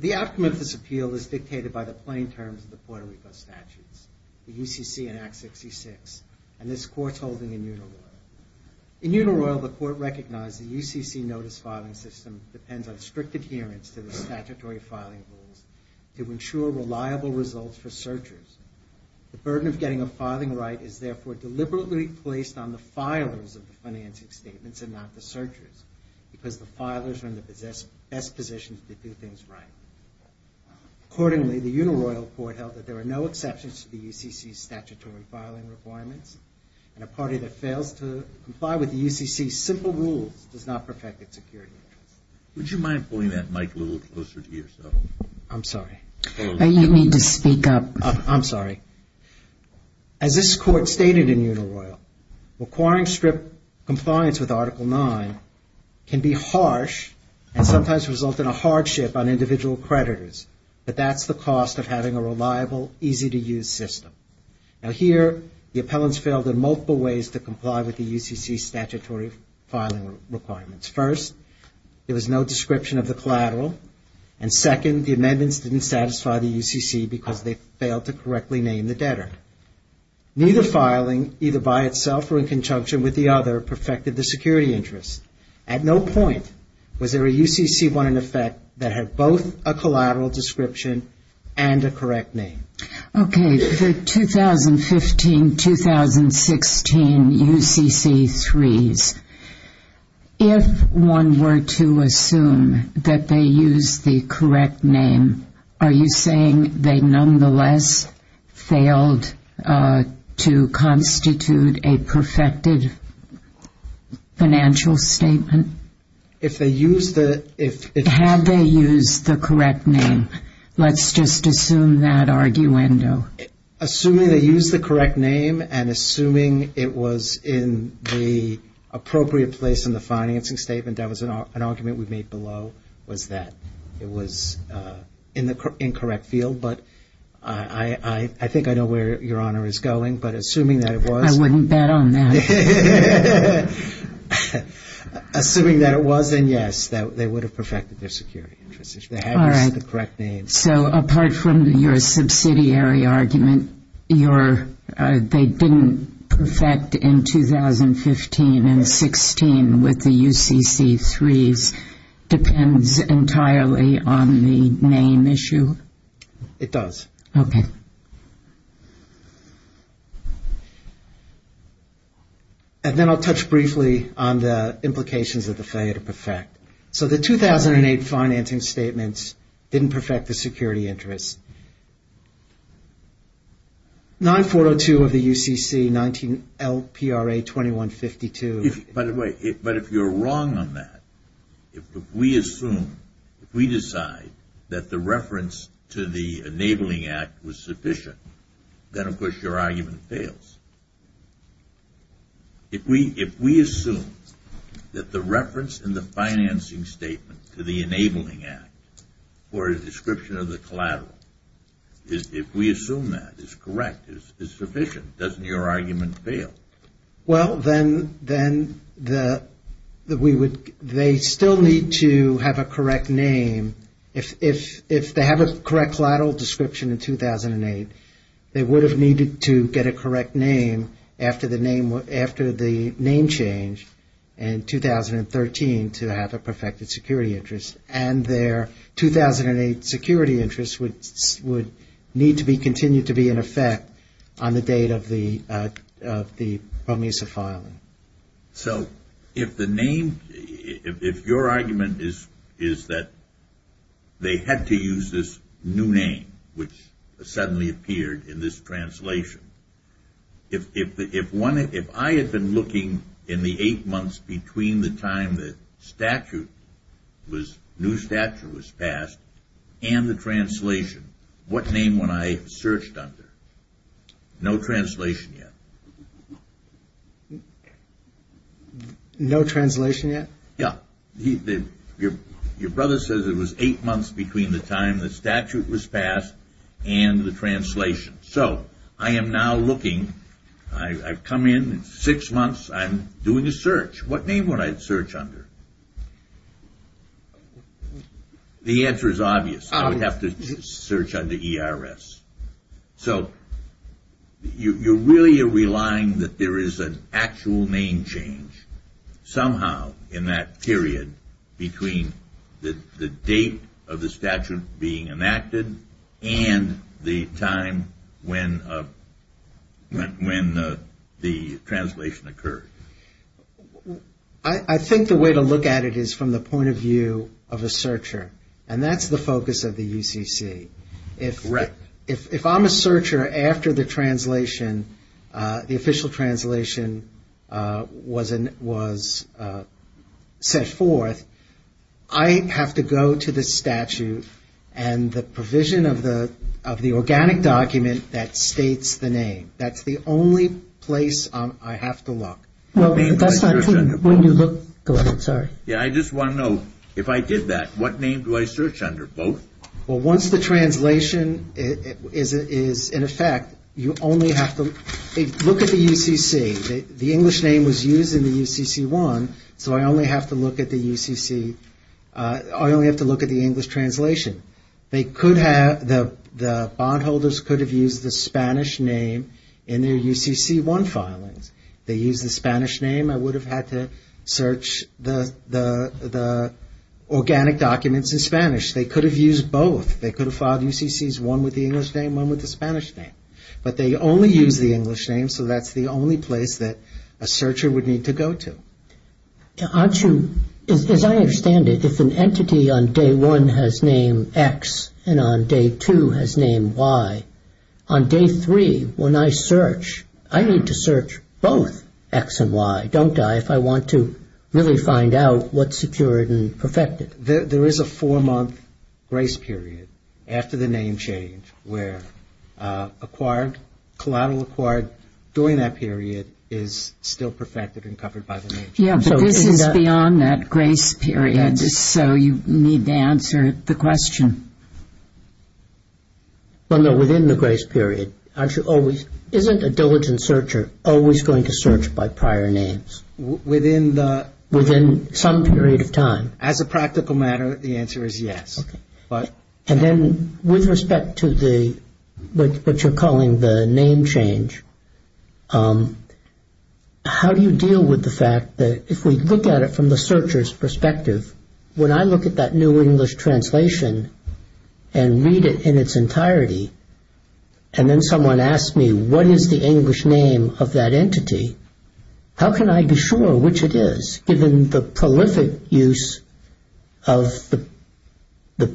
the aftermath of this appeal is dictated by the plain terms of the Puerto Rico statutes, the UCC and Act 66, and this court's holding immutable. Immutable, the court recognized the UCC notice filing system depends on strict adherence to the statutory filing rules to ensure reliable results for searchers. The burden of getting a filing right is therefore deliberately placed on the filings of the financing statements and not the searchers, because the filers are in the best position to do things right. Accordingly, the uniloyal court held that there were no exceptions to the UCC's statutory filing requirements, and a party that fails to comply with the UCC's simple rules does not perfect its security. Would you mind pulling that mic a little closer to yourself? I'm sorry. You need to speak up. I'm sorry. As this court stated in Uniloyal, requiring strict compliance with Article 9 can be harsh and sometimes result in a hardship on individual creditors, but that's the cost of having a reliable, easy-to-use system. Now here, the appellants failed in multiple ways to comply with the UCC's statutory filing requirements. First, there was no description of the collateral, and second, the amendments didn't satisfy the UCC because they failed to correctly name the debtor. Neither filing, either by itself or in conjunction with the other, perfected the security interest. At no point was there a UCC-1 in effect that had both a collateral description and a correct name. Okay, so 2015-2016 UCC-3s. If one were to assume that they used the correct name, are you saying they nonetheless failed to constitute a perfected financial statement? If they used the – Had they used the correct name? Let's just assume that arguendo. Assuming they used the correct name and assuming it was in the appropriate place in the financing statement, that was an argument we made below, was that it was in the incorrect field, but I think I know where Your Honor is going, but assuming that it was – I wouldn't bet on that. Assuming that it was, then yes, they would have perfected their security interest. If they hadn't used the correct name. So apart from your subsidiary argument, they didn't perfect in 2015-2016 with the UCC-3s. Depends entirely on the name issue? It does. Okay. And then I'll touch briefly on the implications of the failure to perfect. So the 2008 financing statements didn't perfect the security interest. 9402 of the UCC, 19LPRA 2152. By the way, but if you're wrong on that, if we assume, if we decide that the reference to the Enabling Act was sufficient, then of course your argument fails. If we assume that the reference in the financing statement to the Enabling Act or a description of the collateral, if we assume that it's correct, it's sufficient, doesn't your argument fail? Well, then they still need to have a correct name. If they have a correct collateral description in 2008, they would have needed to get a correct name after the name changed in 2013 to have a perfected security interest. And their 2008 security interest would need to be continued to be in effect on the date of the BOMISA filing. So if the name, if your argument is that they had to use this new name, which suddenly appeared in this translation, if I had been looking in the eight months between the time the statute was, new statute was passed and the translation, what name would I have searched under? No translation yet. No translation yet? Yeah. Your brother says it was eight months between the time the statute was passed and the translation. So I am now looking, I've come in, six months, I'm doing a search. What name would I search under? The answer is obvious. You have to search under ERS. So you really are relying that there is an actual name change somehow in that period between the date of the statute being enacted and the time when the translation occurred. I think the way to look at it is from the point of view of a searcher. And that's the focus of the ECC. Correct. If I'm a searcher after the translation, the official translation was set forth, I have to go to the statute and the provision of the organic document that states the name. That's the only place I have to look. Yeah, I just want to know, if I did that, what name do I search under? Well, once the translation is in effect, you only have to look at the UCC. The English name was used in the UCC-1, so I only have to look at the UCC, I only have to look at the English translation. They could have, the bondholders could have used the Spanish name in their UCC-1 filing. They used the Spanish name. I would have had to search the organic documents in Spanish. They could have used both. They could have filed UCCs, one with the English name, one with the Spanish name. But they only used the English name, so that's the only place that a searcher would need to go to. As I understand it, if an entity on day one has name X and on day two has name Y, on day three, when I search, I need to search both X and Y, don't I, if I want to really find out what's secured and perfected. There is a four-month grace period after the name change where acquired, collateral acquired during that period is still perfected and covered by the name change. Yeah, but this is beyond that grace period, so you need to answer the question. No, no, within the grace period, isn't a diligent searcher always going to search by prior names? Within the... Within some period of time. As a practical matter, the answer is yes. Okay. And then with respect to the, what you're calling the name change, how do you deal with the fact that if we look at it from the searcher's perspective, when I look at that new English translation and read it in its entirety, and then someone asks me what is the English name of that entity, how can I be sure which it is, given the prolific use of the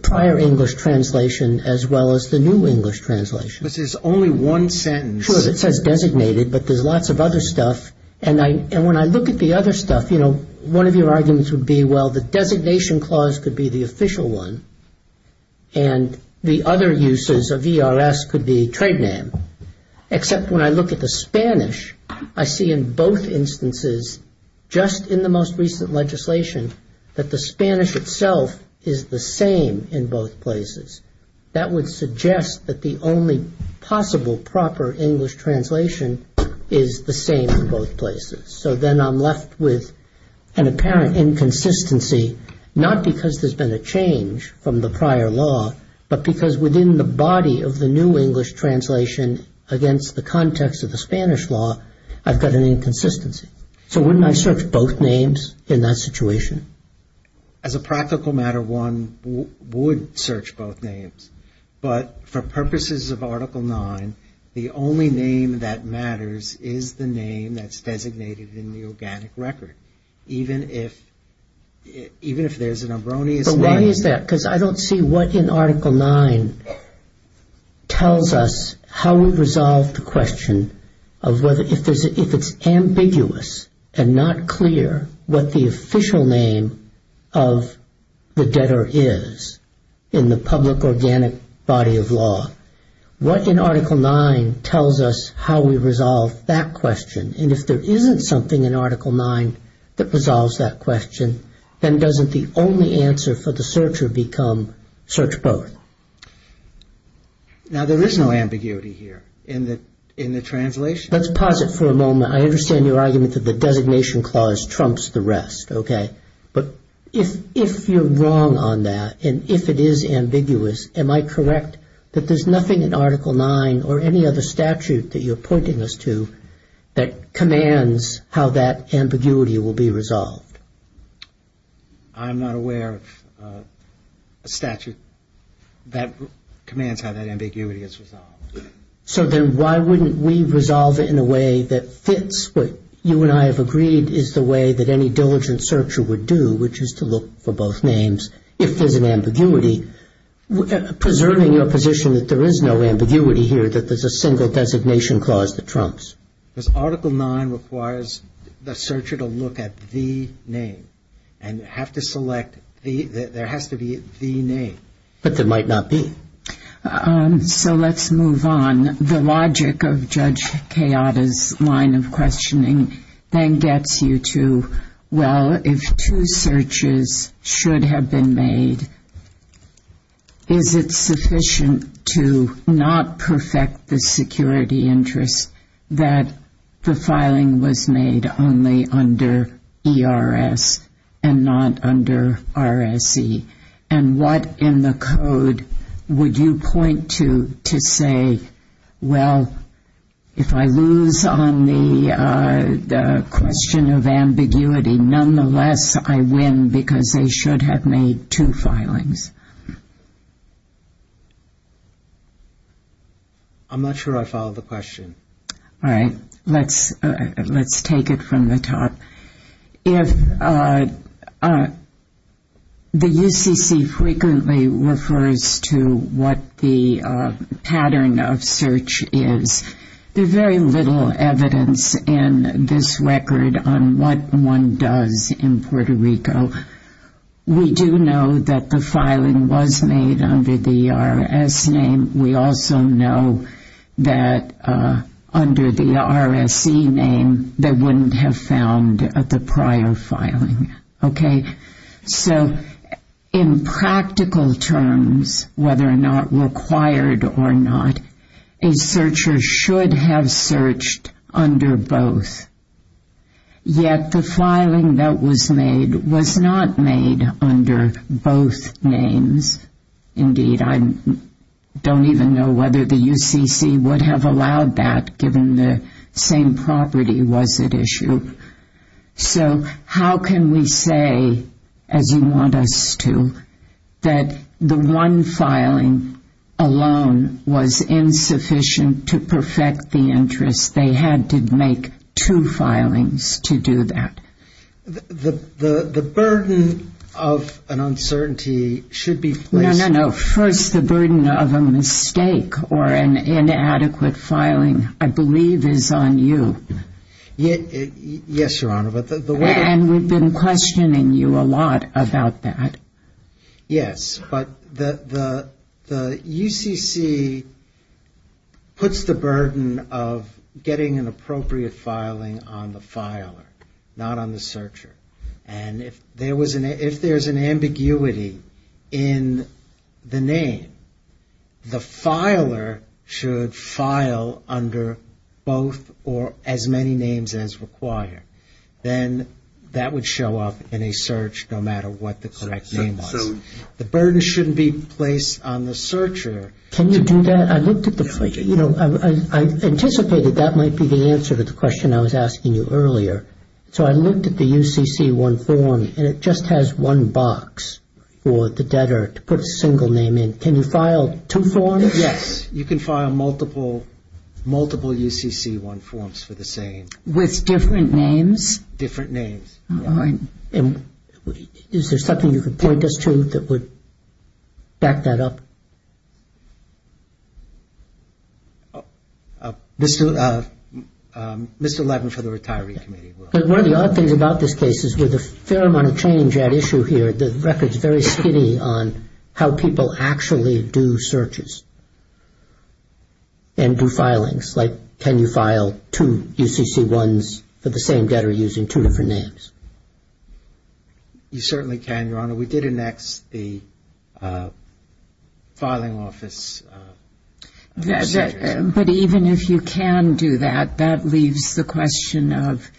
prior English translation as well as the new English translation? But there's only one sentence. Sure, it says designated, but there's lots of other stuff. And when I look at the other stuff, you know, one of your arguments would be, well, the designation clause could be the official one, and the other uses of ERS could be a trade name. Except when I look at the Spanish, I see in both instances, just in the most recent legislation, that the Spanish itself is the same in both places. That would suggest that the only possible proper English translation is the same in both places. So then I'm left with an apparent inconsistency, not because there's been a change from the prior law, but because within the body of the new English translation against the context of the Spanish law, I've got an inconsistency. So wouldn't I search both names in that situation? As a practical matter, one would search both names. But for purposes of Article 9, the only name that matters is the name that's designated in the organic record, even if there's an erroneous one. But why is that? Because I don't see what in Article 9 tells us how we resolve the question of whether, if it's ambiguous and not clear what the official name of the debtor is in the public organic body of law, what in Article 9 tells us how we resolve that question? And if there isn't something in Article 9 that resolves that question, then doesn't the only answer for the searcher become search both? Now there is no ambiguity here in the translation. Let's pause it for a moment. I understand your argument that the designation clause trumps the rest, okay? But if you're wrong on that and if it is ambiguous, am I correct that there's nothing in Article 9 or any other statute that you're pointing us to that commands how that ambiguity will be resolved? I'm not aware of a statute that commands how that ambiguity is resolved. So then why wouldn't we resolve it in a way that fits what you and I have agreed is the way that any diligent searcher would do, which is to look for both names if there's an ambiguity, preserving your position that there is no ambiguity here, that there's a single designation clause that trumps. Because Article 9 requires the searcher to look at the name and have to select the, there has to be the name. But there might not be. So let's move on. The logic of Judge Kayada's line of questioning then gets you to, well, if two searches should have been made, is it sufficient to not perfect the security interest that the filing was made only under ERS and not under RSE? And what in the code would you point to to say, well, if I lose on the question of ambiguity, nonetheless I win because I should have made two filings? I'm not sure I followed the question. All right. Let's take it from the top. If the UCC frequently refers to what the pattern of search is, there's very little evidence in this record on what one does in Puerto Rico. We do know that the filing was made under the ERS name. We also know that under the RSE name they wouldn't have found the prior filing. Okay. So in practical terms, whether or not required or not, a searcher should have searched under both. Yet the filing that was made was not made under both names. Indeed, I don't even know whether the UCC would have allowed that given the same property was at issue. So how can we say, as you want us to, that the one filing alone was insufficient to perfect the interest? They had to make two filings to do that. The burden of an uncertainty should be faced. No, no, no. First, the burden of a mistake or an inadequate filing I believe is on you. Yes, Your Honor. And we've been questioning you a lot about that. Yes. But the UCC puts the burden of getting an appropriate filing on the filer, not on the searcher. And if there's an ambiguity in the name, the filer should file under both or as many names as required. Then that would show up in a search no matter what the correct name was. So the burden shouldn't be placed on the searcher. Can you do that? I anticipated that might be the answer to the question I was asking you earlier. So I looked at the UCC-1 form and it just has one box for the debtor to put a single name in. Can you file two forms? Yes. You can file multiple UCC-1 forms for the same. With different names? Different names. All right. And is there something you can point us to that would back that up? This 11 for the Retiree Committee. But one of the odd things about this case is there's a fair amount of change at issue here. The record's very skinny on how people actually do searches and do filings. Like can you file two UCC-1s for the same debtor using two different names? You certainly can, Your Honor. We did annex the filing office. But even if you can do that, that leaves the question of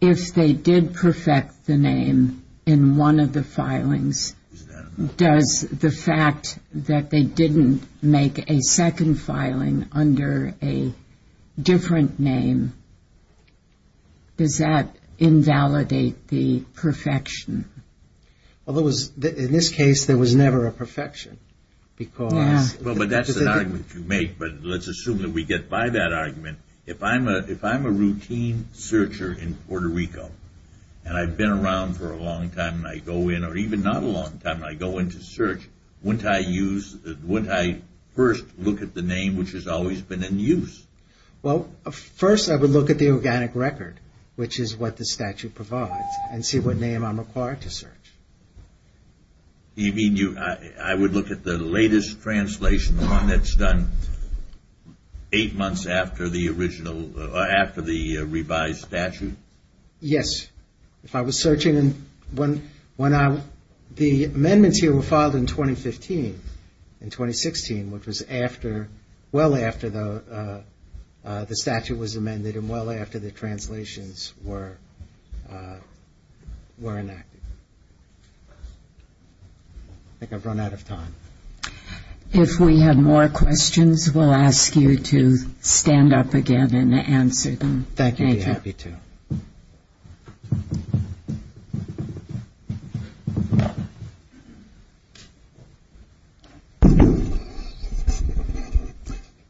if they did perfect the name in one of the filings, does the fact that they didn't make a second filing under a different name, does that invalidate the perfection? In this case, there was never a perfection. But that's the argument you make. But let's assume that we get by that argument. If I'm a routine searcher in Puerto Rico and I've been around for a long time and I go in, or even not a long time and I go in to search, wouldn't I first look at the name which has always been in use? Well, first I would look at the organic record, which is what the statute provides, and see what name I'm required to search. You mean I would look at the latest translation, the one that's done eight months after the revised statute? Yes. If I was searching, the amendments here were filed in 2015, in 2016, which was well after the statute was amended and well after the translations were enacted. I think I've run out of time. If we have more questions, we'll ask you to stand up again and answer them. Thank you. I'd be happy to.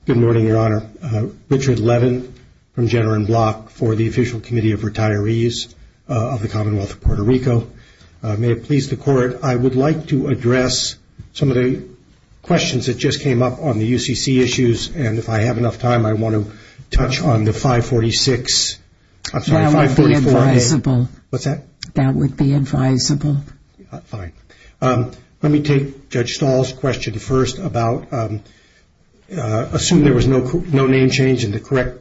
Good morning, Your Honor. Richard Levin from Jenner & Block for the Official Committee of Retirees of the Commonwealth of Puerto Rico. May it please the Court, I would like to address some of the questions that just came up on the UCC issues. And if I have enough time, I want to touch on the 546. That would be advisable. What's that? That would be advisable. Fine. Let me take Judge Stahl's question first about assuming there was no name change and the correct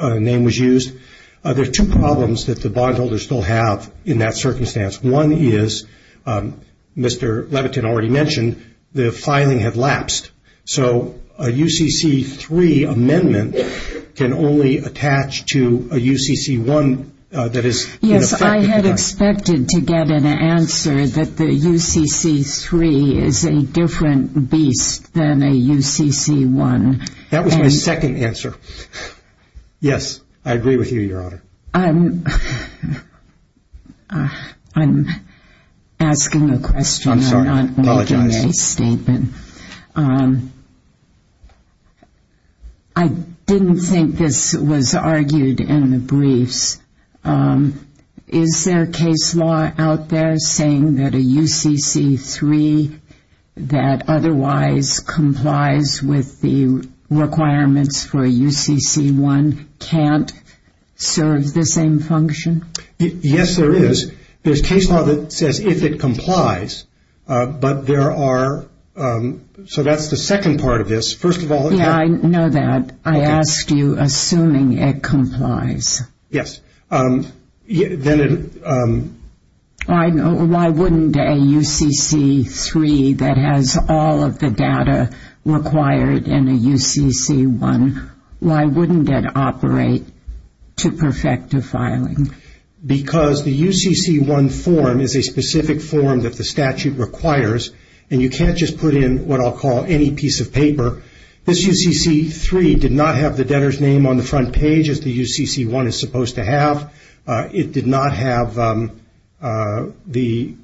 name was used. There's two problems that the bondholders still have in that circumstance. One is, Mr. Levitin already mentioned, the filing had lapsed. So a UCC-3 amendment can only attach to a UCC-1 that is in effect. Yes, I had expected to get an answer that the UCC-3 is a different beast than a UCC-1. That was my second answer. Yes, I agree with you, Your Honor. I'm asking a question. I'm sorry. I apologize. I'm not making a statement. I didn't think this was argued in the briefs. Is there a case law out there saying that a UCC-3 that otherwise complies with the requirements for a UCC-1 can't serve the same function? Yes, there is. There's case law that says if it complies, but there are, so that's the second part of this. First of all- Yeah, I know that. I asked you assuming it complies. Yes. Why wouldn't a UCC-3 that has all of the data required in a UCC-1, why wouldn't it operate to perfect the filing? Because the UCC-1 form is a specific form that the statute requires, and you can't just put in what I'll call any piece of paper. This UCC-3 did not have the debtor's name on the front page as the UCC-1 is supposed to have. It did not have the-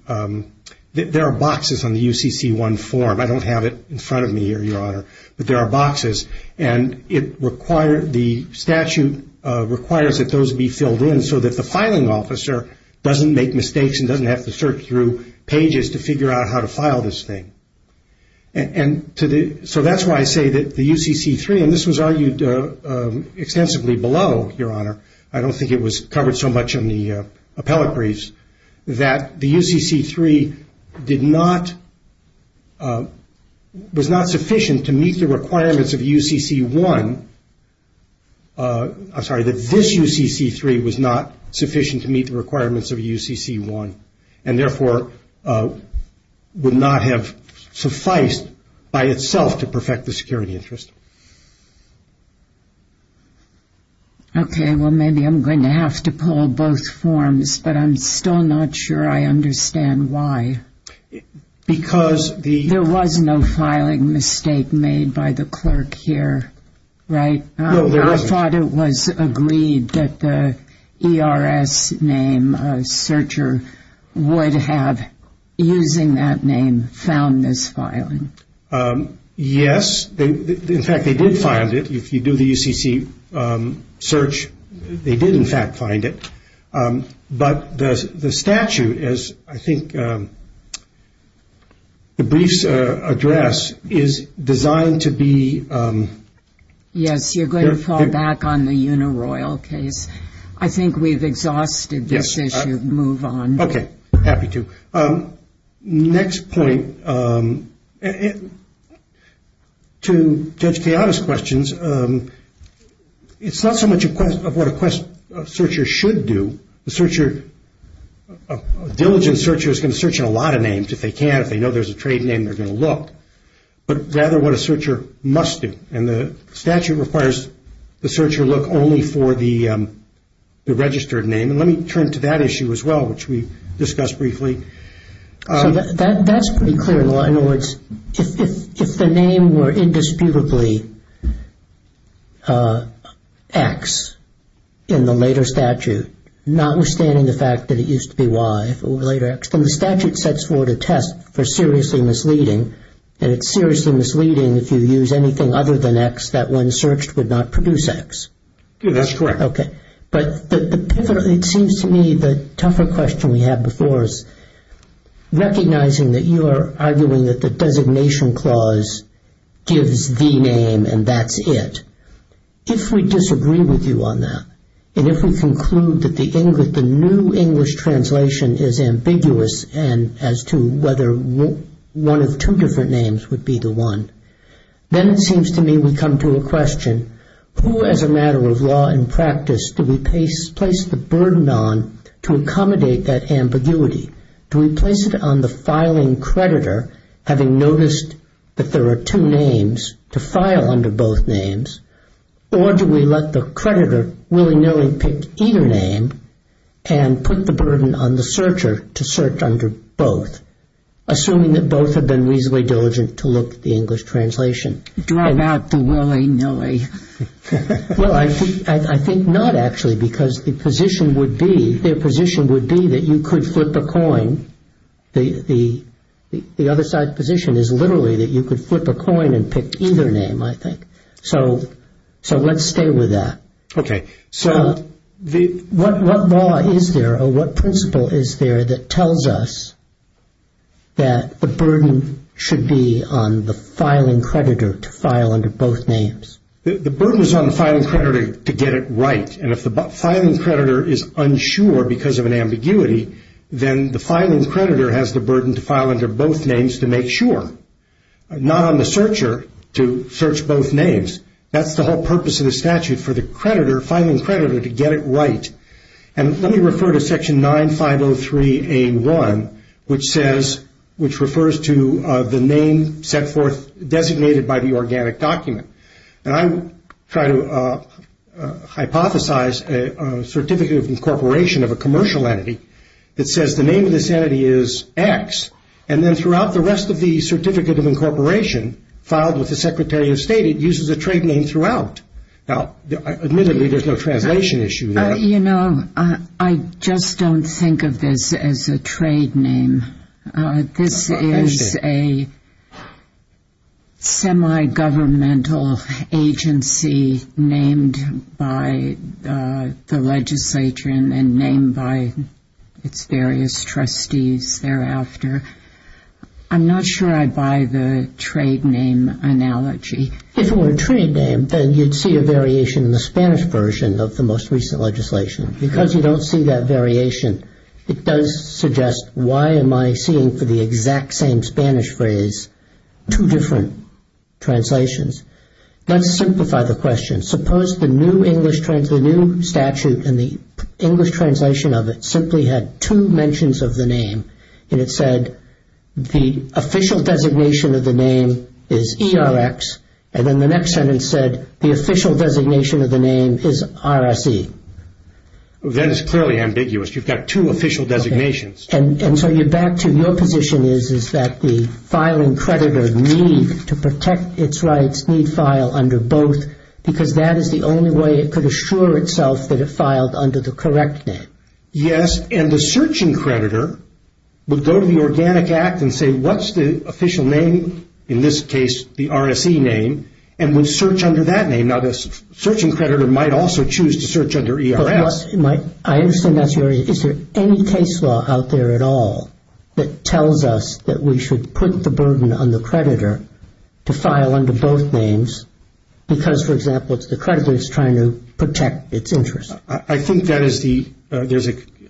there are boxes on the UCC-1 form. I don't have it in front of me here, Your Honor, but there are boxes. The statute requires that those be filled in so that the filing officer doesn't make mistakes and doesn't have to search through pages to figure out how to file this thing. So that's why I say that the UCC-3, and this was argued extensively below, Your Honor, I don't think it was covered so much in the appellate briefs, that the UCC-3 was not sufficient to meet the requirements of UCC-1. I'm sorry, that this UCC-3 was not sufficient to meet the requirements of UCC-1, and therefore would not have sufficed by itself to perfect the security interest. Okay, well maybe I'm going to have to pull both forms, but I'm still not sure I understand why. Because the- There was no filing mistake made by the clerk here, right? No, there isn't. I thought it was agreed that the ERS name searcher would have, using that name, found this filing. Yes, in fact, they did find it. If you do the UCC search, they did, in fact, find it. But the statute, as I think the briefs address, is designed to be- Yes, you're going to fall back on the Unaroyal case. I think we've exhausted this issue. Yes. Move on. Okay, happy to. Next point, to Judge Keada's questions, it's not so much a question of what a searcher should do. A diligent searcher is going to search on a lot of names. If they can, if they know there's a trade name, they're going to look. But rather, what a searcher must do, and the statute requires the searcher look only for the registered name. Let me turn to that issue as well, which we discussed briefly. That's pretty clear. In other words, if the name were indisputably X in the later statute, notwithstanding the fact that it used to be Y, and the statute sets forth a test for seriously misleading, and it's seriously misleading if you use anything other than X that when searched would not produce X. That's correct. Okay. But it seems to me the tougher question we had before is recognizing that you are arguing that the designation clause gives the name and that's it. If we disagree with you on that, and if we conclude that the new English translation is ambiguous as to whether one of two different names would be the one, then it seems to me we come to a question, who as a matter of law and practice do we place the burden on to accommodate that ambiguity? Do we place it on the filing creditor, having noticed that there are two names to file under both names, or do we let the creditor willy-nilly pick either name and put the burden on the searcher to search under both, assuming that both have been reasonably diligent to look at the English translation? Do I not do willy-nilly? Well, I think not, actually, because their position would be that you could flip a coin. The other side's position is literally that you could flip a coin and pick either name, I think. So let's stay with that. Okay. So what law is there or what principle is there that tells us that the burden should be on the filing creditor to file under both names? The burden is on the filing creditor to get it right, and if the filing creditor is unsure because of an ambiguity, then the filing creditor has the burden to file under both names to make sure, not on the searcher to search both names. That's the whole purpose of the statute for the creditor, filing creditor, to get it right. And let me refer to Section 9503A1, which refers to the name set forth, designated by the organic document. And I try to hypothesize a Certificate of Incorporation of a commercial entity that says the name of this entity is X, and then throughout the rest of the Certificate of Incorporation filed with the Secretary of State, it uses a trade name throughout. Admittedly, there's no translation issue there. You know, I just don't think of this as a trade name. This is a semi-governmental agency named by the legislature and then named by its various trustees thereafter. I'm not sure I buy the trade name analogy. If it were a trade name, then you'd see a variation in the Spanish version of the most recent legislation. Because you don't see that variation, it does suggest why am I seeing for the exact same Spanish phrase two different translations. Let's simplify the question. Suppose the new English, the new statute and the English translation of it simply had two mentions of the name, and it said the official designation of the name is ERX, and then the next sentence said the official designation of the name is RSE. That is clearly ambiguous. You've got two official designations. And so you're back to your position is that the filing creditor needs to protect its rights, needs to file under both, because that is the only way it could assure itself that it filed under the correct name. Yes, and the searching creditor would go to the Organic Act and say what's the official name? In this case, the RSE name, and would search under that name. Now, the searching creditor might also choose to search under ERX. I understand that's right. Is there any case law out there at all that tells us that we should put the burden on the creditor to file under both names? Because, for example, the creditor is trying to protect its interests.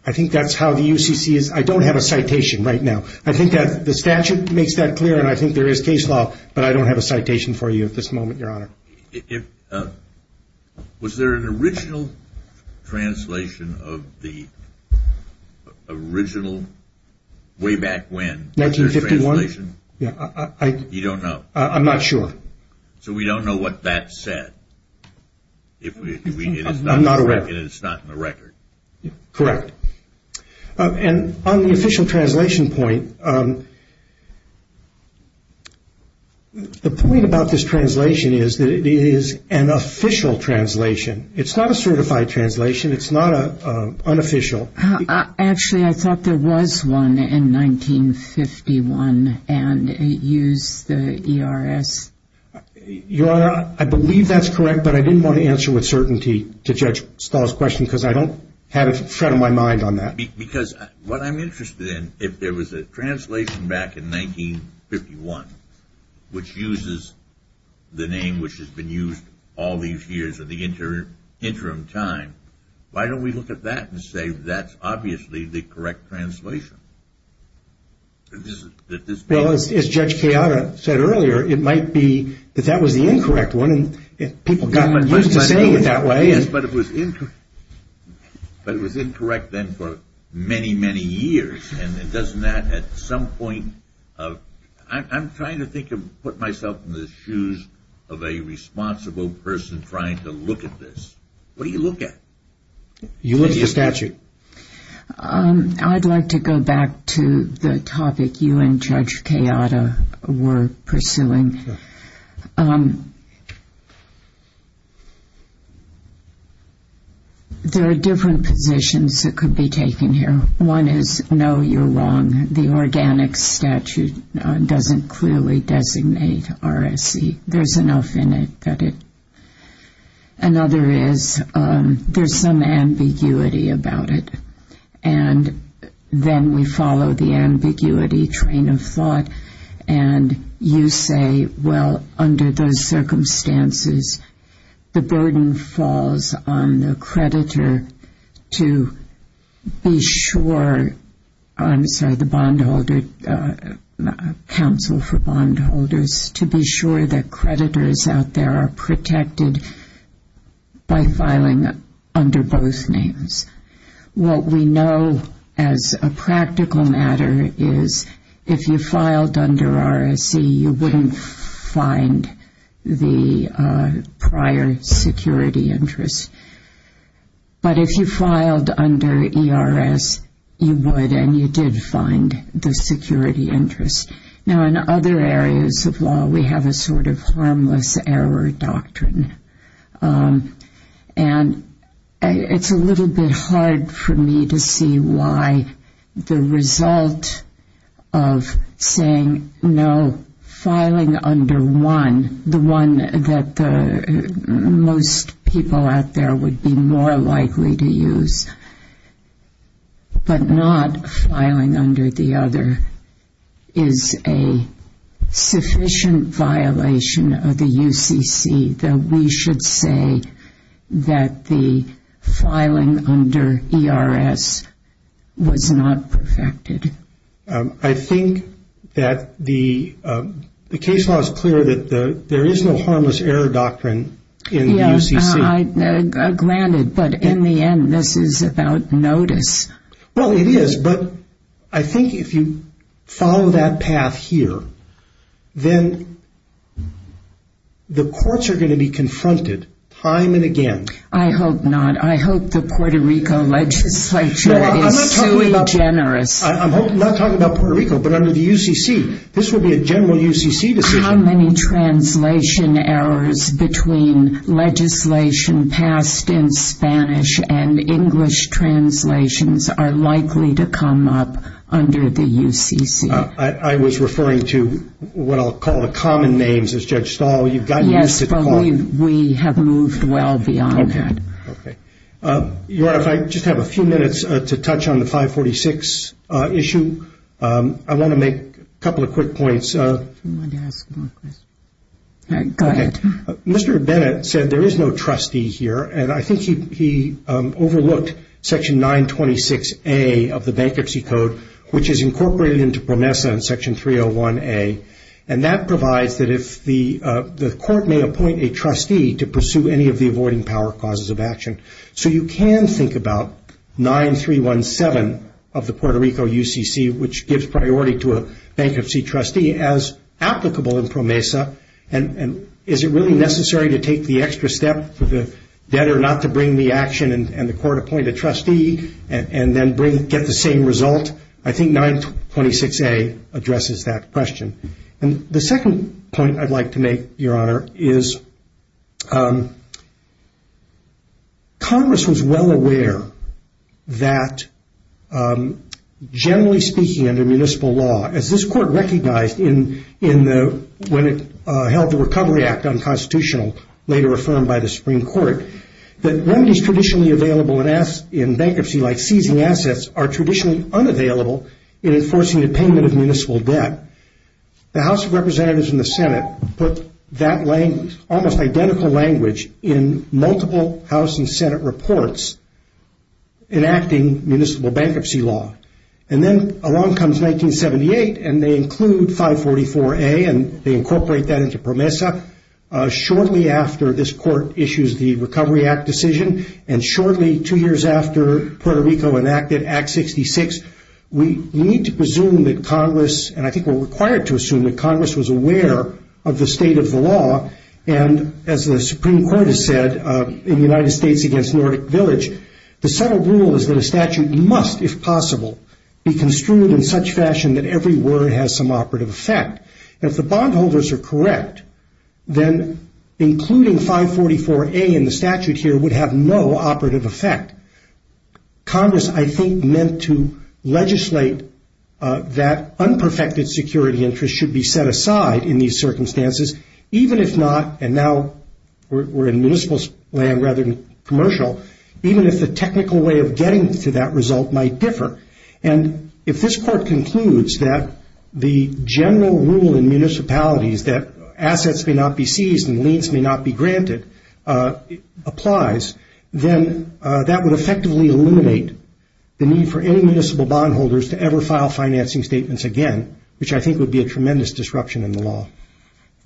I think that's how the UCC is. I don't have a citation right now. I think that the statute makes that clear, and I think there is case law, but I don't have a citation for you at this moment, Your Honor. Was there an original translation of the original way back when? 1951? You don't know? I'm not sure. So we don't know what that said? I'm not aware. And it's not in the record? Correct. And on the official translation point, the point about this translation is that it is an official translation. It's not a certified translation. It's not unofficial. Actually, I thought there was one in 1951, and it used the ERX. Your Honor, I believe that's correct, but I didn't want to answer with certainty to Judge Stahl's question because I don't have it in front of my mind on that. Because what I'm interested in, if there was a translation back in 1951, which uses the name which has been used all these years of the interim time, why don't we look at that and say that's obviously the correct translation? Well, as Judge Piatta said earlier, it might be that that was the incorrect one, and people got used to saying it that way. But it was incorrect then for many, many years. And doesn't that at some point of... I'm trying to think of putting myself in the shoes of a responsible person trying to look at this. You look at the statute. I'd like to go back to the topic you and Judge Piatta were pursuing. There are different positions that could be taken here. One is no, you're wrong. The organic statute doesn't clearly designate RSE. There's enough in it that it... Another is there's some ambiguity about it. And then we follow the ambiguity train of thought, and you say, well, under those circumstances, the burden falls on the creditor to be sure... I'm sorry, the bondholder, counsel for bondholders, to be sure that creditors out there are protected by filing under both names. What we know as a practical matter is if you filed under RSE, you wouldn't find the prior security interest. But if you filed under ERS, you would, and you did find the security interest. Now, in other areas of law, we have a sort of harmless error doctrine. And it's a little bit hard for me to see why the result of saying no, filing under one, the one that most people out there would be more likely to use, but not filing under the other is a sufficient violation of the UCC, though we should say that the filing under ERS was not protected. I think that the case law is clear that there is no harmless error doctrine in the UCC. Now, granted, but in the end, this is about notice. Well, it is, but I think if you follow that path here, then the courts are going to be confronted time and again. I hope not. I hope the Puerto Rico legislature is truly generous. I'm not talking about Puerto Rico, but I mean the UCC. This would be a general UCC decision. How many translation errors between legislation passed in Spanish and English translations are likely to come up under the UCC? I was referring to what I'll call the common names as Judge Stahl. You've gotten used to calling. Yes, but we have moved well beyond that. Okay. Your Honor, if I just have a few minutes to touch on the 546 issue. I want to make a couple of quick points. Go ahead. Mr. Bennett said there is no trustee here, and I think he overlooked Section 926A of the Bankruptcy Code, which is incorporated into PROMESA in Section 301A, and that provides that if the court may appoint a trustee to pursue any of the avoiding power causes of action. So you can think about 9317 of the Puerto Rico UCC, which gives priority to a bankruptcy trustee, as applicable in PROMESA, and is it really necessary to take the extra step for the debtor not to bring the action and the court appoint a trustee and then get the same result? I think 926A addresses that question. And the second point I'd like to make, Your Honor, is Congress was well aware that, generally speaking, under municipal law, as this court recognized when it held the Recovery Act unconstitutional, later affirmed by the Supreme Court, that remedies traditionally available in bankruptcy, like fusing assets, are traditionally unavailable in enforcing the payment of municipal debt. The House of Representatives and the Senate put that almost identical language in multiple House and Senate reports enacting municipal bankruptcy law. And then along comes 1978, and they include 544A, and they incorporate that into PROMESA, shortly after this court issues the Recovery Act decision, and shortly, two years after Puerto Rico enacted Act 66, we need to presume that Congress, and I think we're required to assume, that Congress was aware of the state of the law, and, as the Supreme Court has said, in the United States against Nordic Village, the settled rule is that a statute must, if possible, be construed in such fashion that every word has some operative effect. If the bondholders are correct, then including 544A in the statute here would have no operative effect. Congress, I think, meant to legislate that unperfected security interests should be set aside in these circumstances, even if not, and now we're in municipal land rather than commercial, even if the technical way of getting to that result might differ. And if this court concludes that the general rule in municipalities that assets may not be seized and liens may not be granted applies, then that would effectively eliminate the need for any municipal bondholders to ever file financing statements again, which I think would be a tremendous disruption in the law.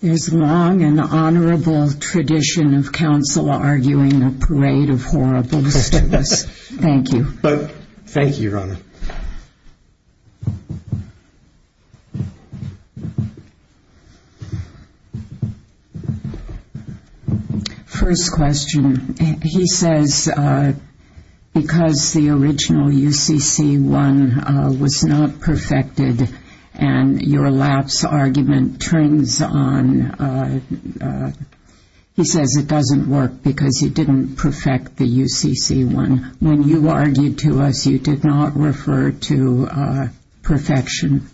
There's long an honorable tradition of counsel arguing a parade of horrible statements. Thank you. Thank you, Your Honor. Thank you. First question. He says, because the original UCC-1 was not perfected and your lapse argument turns on, he says it doesn't work because he didn't perfect the UCC-1. When you argued to us, you did not refer to perfection.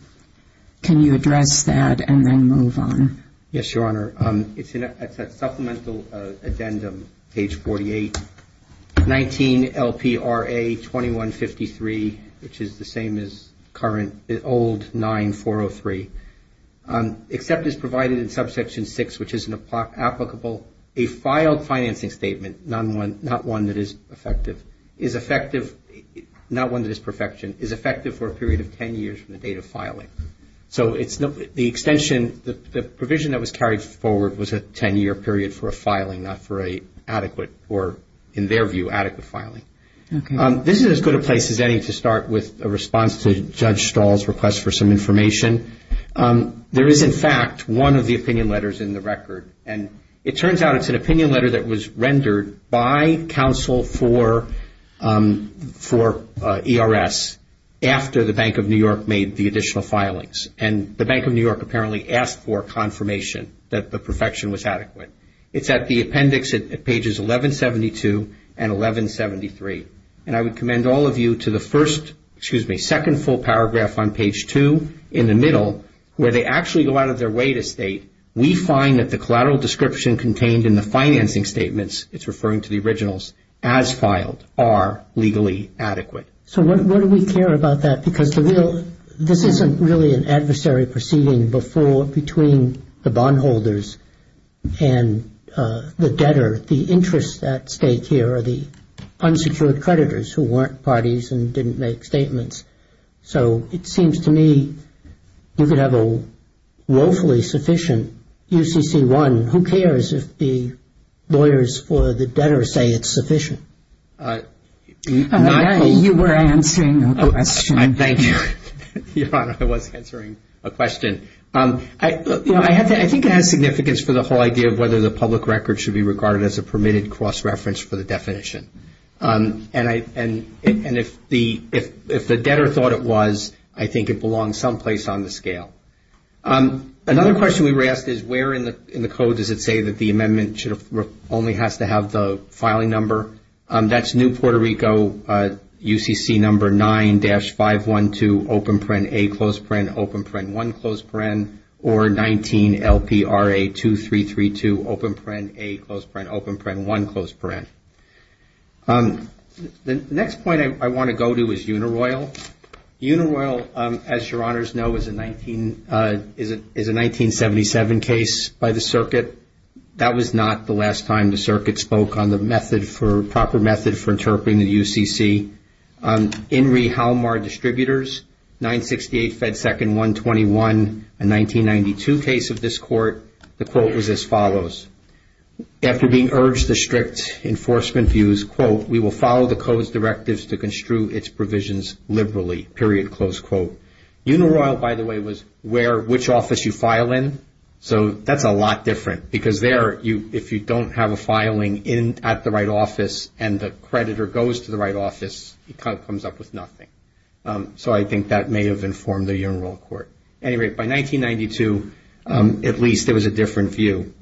Can you address that and then move on? Yes, Your Honor. It's a supplemental addendum, page 48, 19 LPRA 2153, which is the same as the old 9403, except it's provided in subsection 6, which is applicable. For example, a filed financing statement, not one that is effective, not one that is perfection, is effective for a period of 10 years from the date of filing. So the extension, the provision that was carried forward was a 10-year period for a filing, not for an adequate, or in their view, adequate filing. This is as good a place as any to start with a response to Judge Stahl's request for some information. There is, in fact, one of the opinion letters in the record. And it turns out it's an opinion letter that was rendered by counsel for ERS after the Bank of New York made the additional filings. And the Bank of New York apparently asked for confirmation that the perfection was adequate. It's at the appendix at pages 1172 and 1173. And I would commend all of you to the first, excuse me, second full paragraph on page 2, in the middle, where they actually go out of their way to state, we find that the collateral description contained in the financing statements, it's referring to the originals, as filed are legally adequate. So why do we care about that? Because this isn't really an adversary proceeding between the bondholders and the debtor. The interests at stake here are the unsecured creditors who weren't parties and didn't make statements. So it seems to me you could have a woefully sufficient UCC-1. Who cares if the lawyers or the debtor say it's sufficient? You were answering a question. Thank you. Your Honor, I wasn't answering a question. I think it has significance for the whole idea of whether the public record should be regarded as a permitted cross-reference for the definition. And if the debtor thought it was, I think it belongs someplace on the scale. Another question we were asked is, where in the code does it say that the amendment only has to have the filing number? That's New Puerto Rico, UCC number 9-512, open paren, A, close paren, open paren, 1, close paren, open paren, 1, close paren. The next point I want to go to is Unaroyal. Unaroyal, as Your Honors know, is a 1977 case by the circuit. That was not the last time the circuit spoke on the proper method for interpreting the UCC. In re Halmar Distributors, 968 Fed Second 121, a 1992 case of this court, the quote was as follows. After being urged the strict enforcement views, quote, we will follow the code's directives to construe its provisions liberally, period, close quote. Unaroyal, by the way, was where, which office you file in. So that's a lot different because there, if you don't have a filing in at the right office and the creditor goes to the right office, it kind of comes up with nothing. So I think that may have informed the Unaroyal Court. Anyway, by 1992, at least, there was a different view.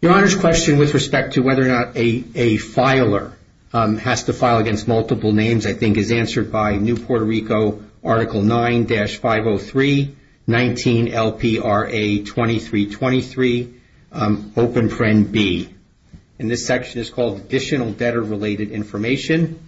Your Honor's question with respect to whether or not a filer has to file against multiple names, I think is answered by New Puerto Rico Article 9-503, 19 LPRA 2323, open print B. And this section is called Additional Debtor-Related Information.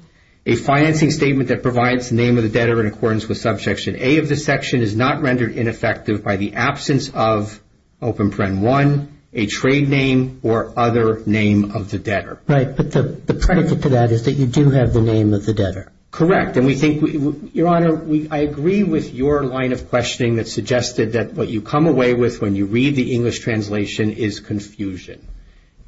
A financing statement that provides the name of the debtor in accordance with Subsection A of this section is not rendered ineffective by the absence of open print 1, a trade name, or other name of the debtor. Right, but the predicate to that is that you do have the name of the debtor. Correct, and we think, Your Honor, I agree with your line of questioning that suggested that what you come away with when you read the English translation is confusion.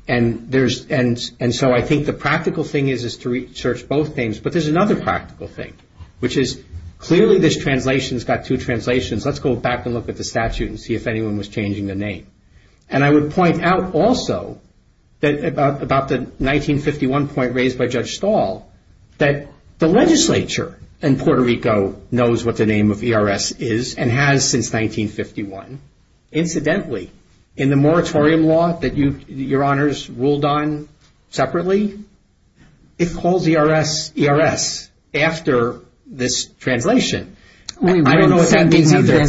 And there's, and so I think the practical thing is is to research both names, but there's another practical thing, which is clearly this translation's got two translations. Let's go back and look at the statute and see if anyone was changing the name. And I would point out, also, about the 1951 point raised by Judge Stahl, that the legislature in Puerto Rico knows what the name of ERS is and has since 1951. Incidentally, in the moratorium law that you, Your Honors, ruled on separately, it calls ERS ERS after this translation. I don't know what that means either.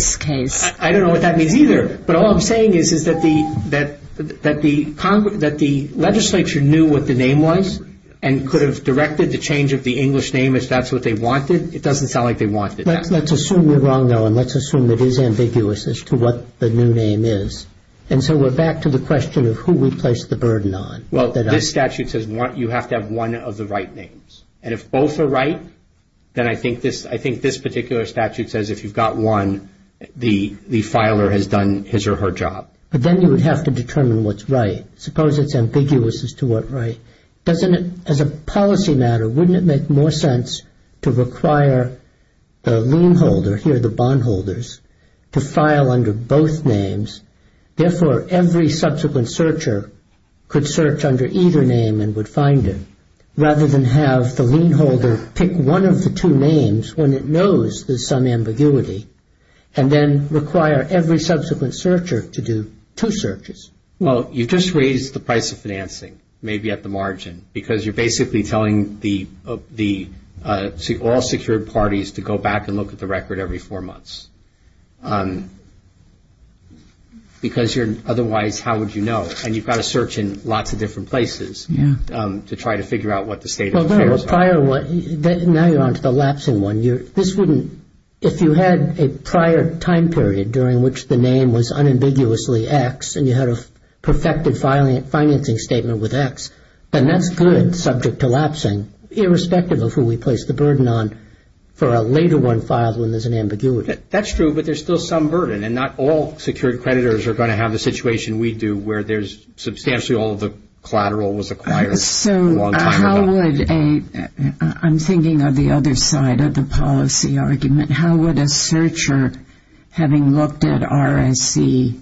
I don't know what that means either. But all I'm saying is that the legislature knew what the name was and could have directed the change of the English name if that's what they wanted. It doesn't sound like they wanted it. Let's assume we're wrong, though, and let's assume it is ambiguous as to what the new name is. And so we're back to the question of who we place the burden on. Well, this statute says you have to have one of the right names. And if both are right, then I think this particular statute says if you've got one, the filer has done his or her job. But then you would have to determine what's right. Suppose it's ambiguous as to what right. As a policy matter, wouldn't it make more sense to require the lien holder, here the bond holders, to file under both names? Therefore, every subsequent searcher could search under either name and would find it, rather than have the lien holder pick one of the two names when it knows there's some ambiguity and then require every subsequent searcher to do two searches. Well, you've just raised the price of financing, maybe at the margin, because you're basically telling all secured parties to go back and look at the record every four months. Because otherwise, how would you know? And you've got to search in lots of different places to try to figure out what the state of affairs are. Now you're on to the lapsing one. If you had a prior time period during which the name was unambiguously X and you had a perfected financing statement with X, then that's good, subject to lapsing, irrespective of who we place the burden on for a later one filed when there's an ambiguity. That's true, but there's still some burden. And not all secured creditors are going to have a situation we do where there's substantially all the collateral was acquired. So how would a... I'm thinking of the other side of the policy argument. How would a searcher, having looked at RSE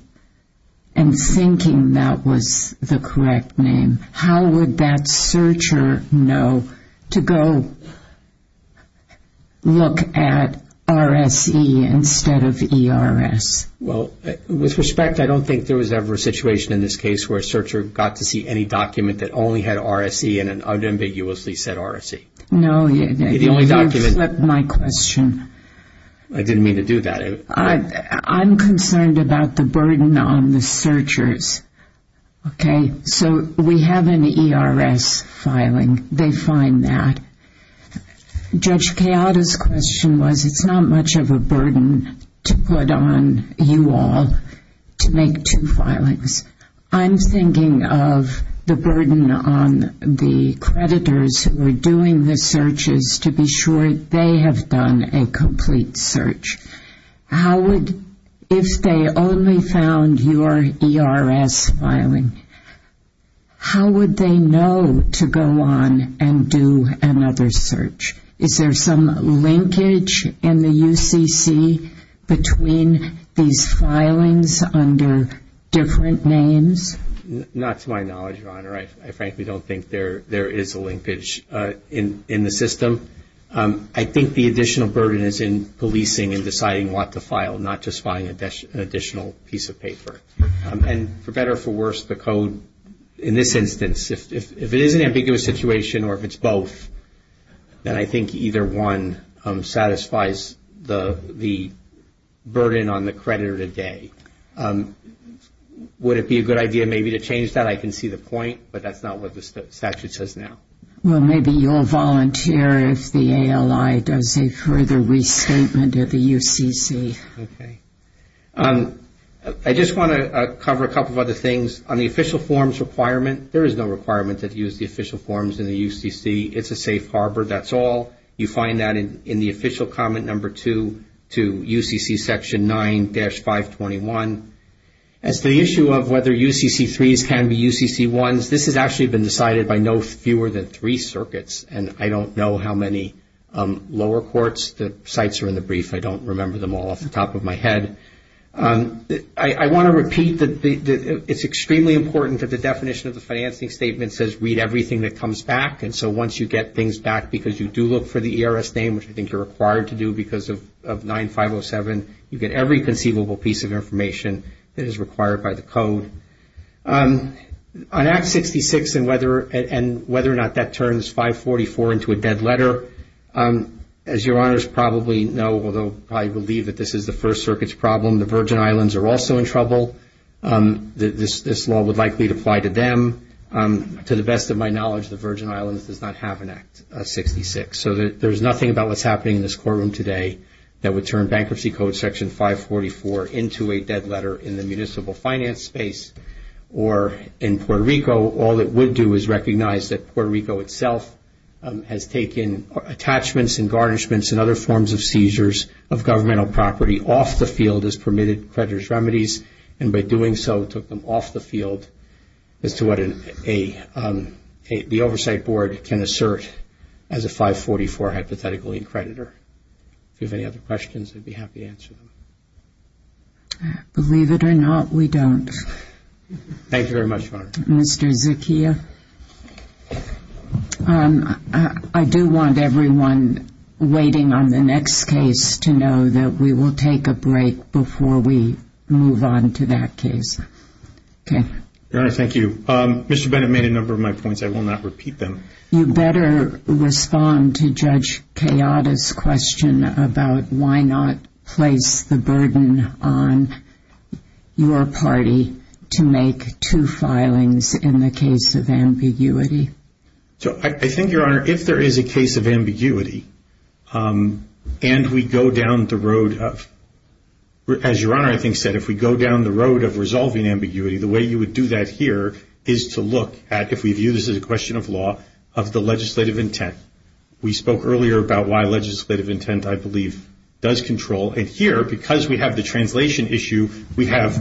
and thinking that was the correct name, how would that searcher know to go look at RSE instead of ERS? Well, with respect, I don't think there was ever a situation in this case where a searcher got to see any document that only had RSE and unambiguously said RSE. No, that's my question. I didn't mean to do that. I'm concerned about the burden on the searchers, okay? So we have an ERS filing. They find that. Judge Chiodo's question was it's not much of a burden to put on you all to make two filings. I'm thinking of the burden on the creditors who are doing the searches to be sure they have done a complete search. How would... If they only found your ERS filing, how would they know to go on and do another search? Is there some linkage in the UCC between these filings under different names? Not to my knowledge, Your Honor. I frankly don't think there is a linkage in the system. I think the additional burden is in policing and deciding what to file, not just filing an additional piece of paper. And for better or for worse, the code in this instance, if it is an ambiguous situation or if it's both, then I think either one satisfies the burden on the creditor today. Would it be a good idea maybe to change that? I can see the point, but that's not what the statute says now. Well, maybe you'll volunteer if the ALI does a further restatement at the UCC. Okay. I just want to cover a couple of other things. On the official forms requirement, there is no requirement to use the official forms in the UCC. It's a safe harbor, that's all. You find that in the official comment number 2 to UCC section 9-521. As to the issue of whether UCC3s can be UCC1s, this has actually been decided by no fewer than three circuits, and I don't know how many lower courts. The sites are in the brief. I don't remember them all off the top of my head. I want to repeat that it's extremely important that the definition of the financing statement says read everything that comes back, and so once you get things back because you do look for the ERS name, which I think you're required to do because of 9-507, you get every conceivable piece of information that is required by the code. On Act 66 and whether or not that turns 544 into a dead letter, as your honors probably know, although I believe that this is the First Circuit's problem, the Virgin Islands are also in trouble. This law would likely apply to them. To the best of my knowledge, the Virgin Islands does not have an Act 66, so there's nothing about what's happening in this courtroom today that would turn Bankruptcy Code section 544 into a dead letter in the municipal finance space, or in Puerto Rico, all it would do is recognize that Puerto Rico itself has taken attachments and garnishments and other forms of seizures of governmental property off the field as permitted creditor's remedies, and by doing so took them off the field as to what the Oversight Board can assert as a 544 hypothetically creditor. If you have any other questions, I'd be happy to answer them. Believe it or not, we don't. Thank you very much, Your Honor. Thank you very much, Mr. Zucchia. I do want everyone waiting on the next case to know that we will take a break before we move on to that case. Your Honor, thank you. Mr. Bennett made a number of my points. I will not repeat them. You better respond to Judge Kayada's question about why not place the burden on your party to make two filings in the case of ambiguity. I think, Your Honor, if there is a case of ambiguity and we go down the road of... As Your Honor, I think, said, if we go down the road of resolving ambiguity, the way you would do that here is to look at, if we view this as a question of law, of the legislative intent. We spoke earlier about why legislative intent, I believe, does control, and here, because we have the translation issue, we have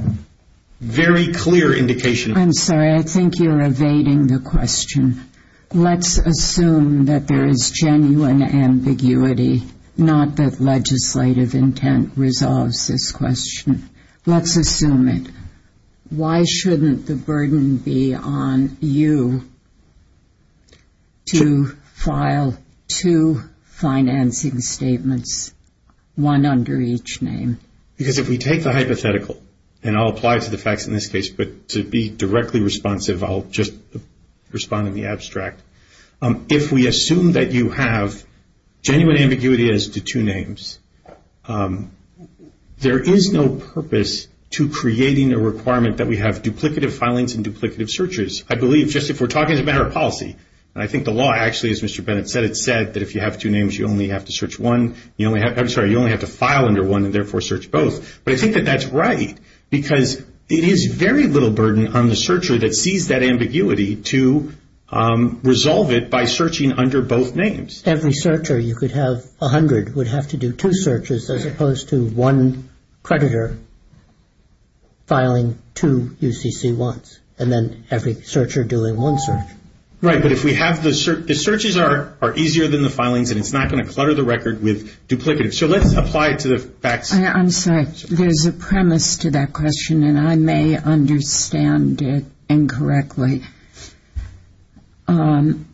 very clear indications... I'm sorry. I think you're evading the question. Let's assume that there is genuine ambiguity, not that legislative intent resolves this question. Let's assume it. Why shouldn't the burden be on you to file two financing statements, one under each name? Because if we take the hypothetical, and I'll apply to the facts in this case, but to be directly responsive, I'll just respond in the abstract. If we assume that you have genuine ambiguity as to two names, there is no purpose to creating the requirement that we have duplicative filings and duplicative searches. I believe, just if we're talking as a matter of policy, and I think the law actually, as Mr. Bennett said, said that if you have two names, you only have to file under one and therefore search both. But I think that that's right, because it is very little burden on the searcher that sees that ambiguity to resolve it by searching under both names. Every searcher, you could have 100, would have to do two searches as opposed to one creditor filing two UCC1s, and then every searcher doing one search. Right, but if we have the... The searches are easier than the filings, and it's not going to clutter the record with duplicative. So let's apply it to the facts. I'm sorry. There's a premise to that question, and I may understand it incorrectly. Aren't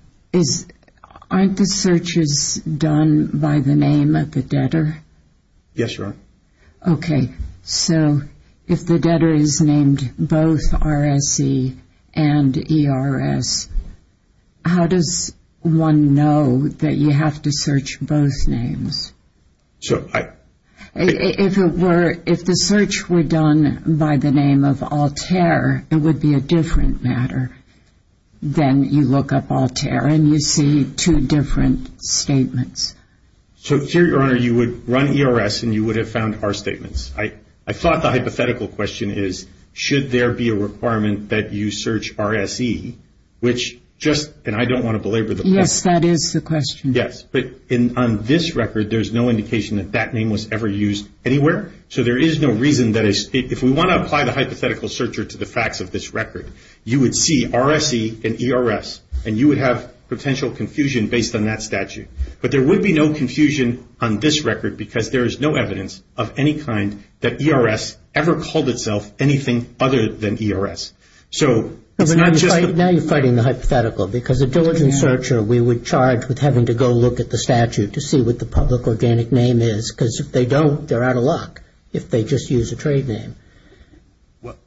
the searches done by the name of the debtor? Yes, you are. Okay, so if the debtor is named both RSE and ERS, how does one know that you have to search both names? If the search were done by the name of Altair, it would be a different matter. Then you look up Altair, and you see two different statements. So here you are, you would run ERS, and you would have found R statements. I thought the hypothetical question is, should there be a requirement that you search RSE, which just... And I don't want to belabor the question. Yes, that is the question. Yes, but on this record, there's no indication that that name was ever used anywhere. So there is no reason that... If we want to apply the hypothetical searcher to the facts of this record, you would see RSE and ERS, and you would have potential confusion based on that statute. But there would be no confusion on this record, because there is no evidence of any kind that ERS ever called itself anything other than ERS. Now you're fighting the hypothetical, because a diligent searcher, we would charge with having to go look at the statute to see what the public organic name is, because if they don't, they're out of luck if they just use a trade name.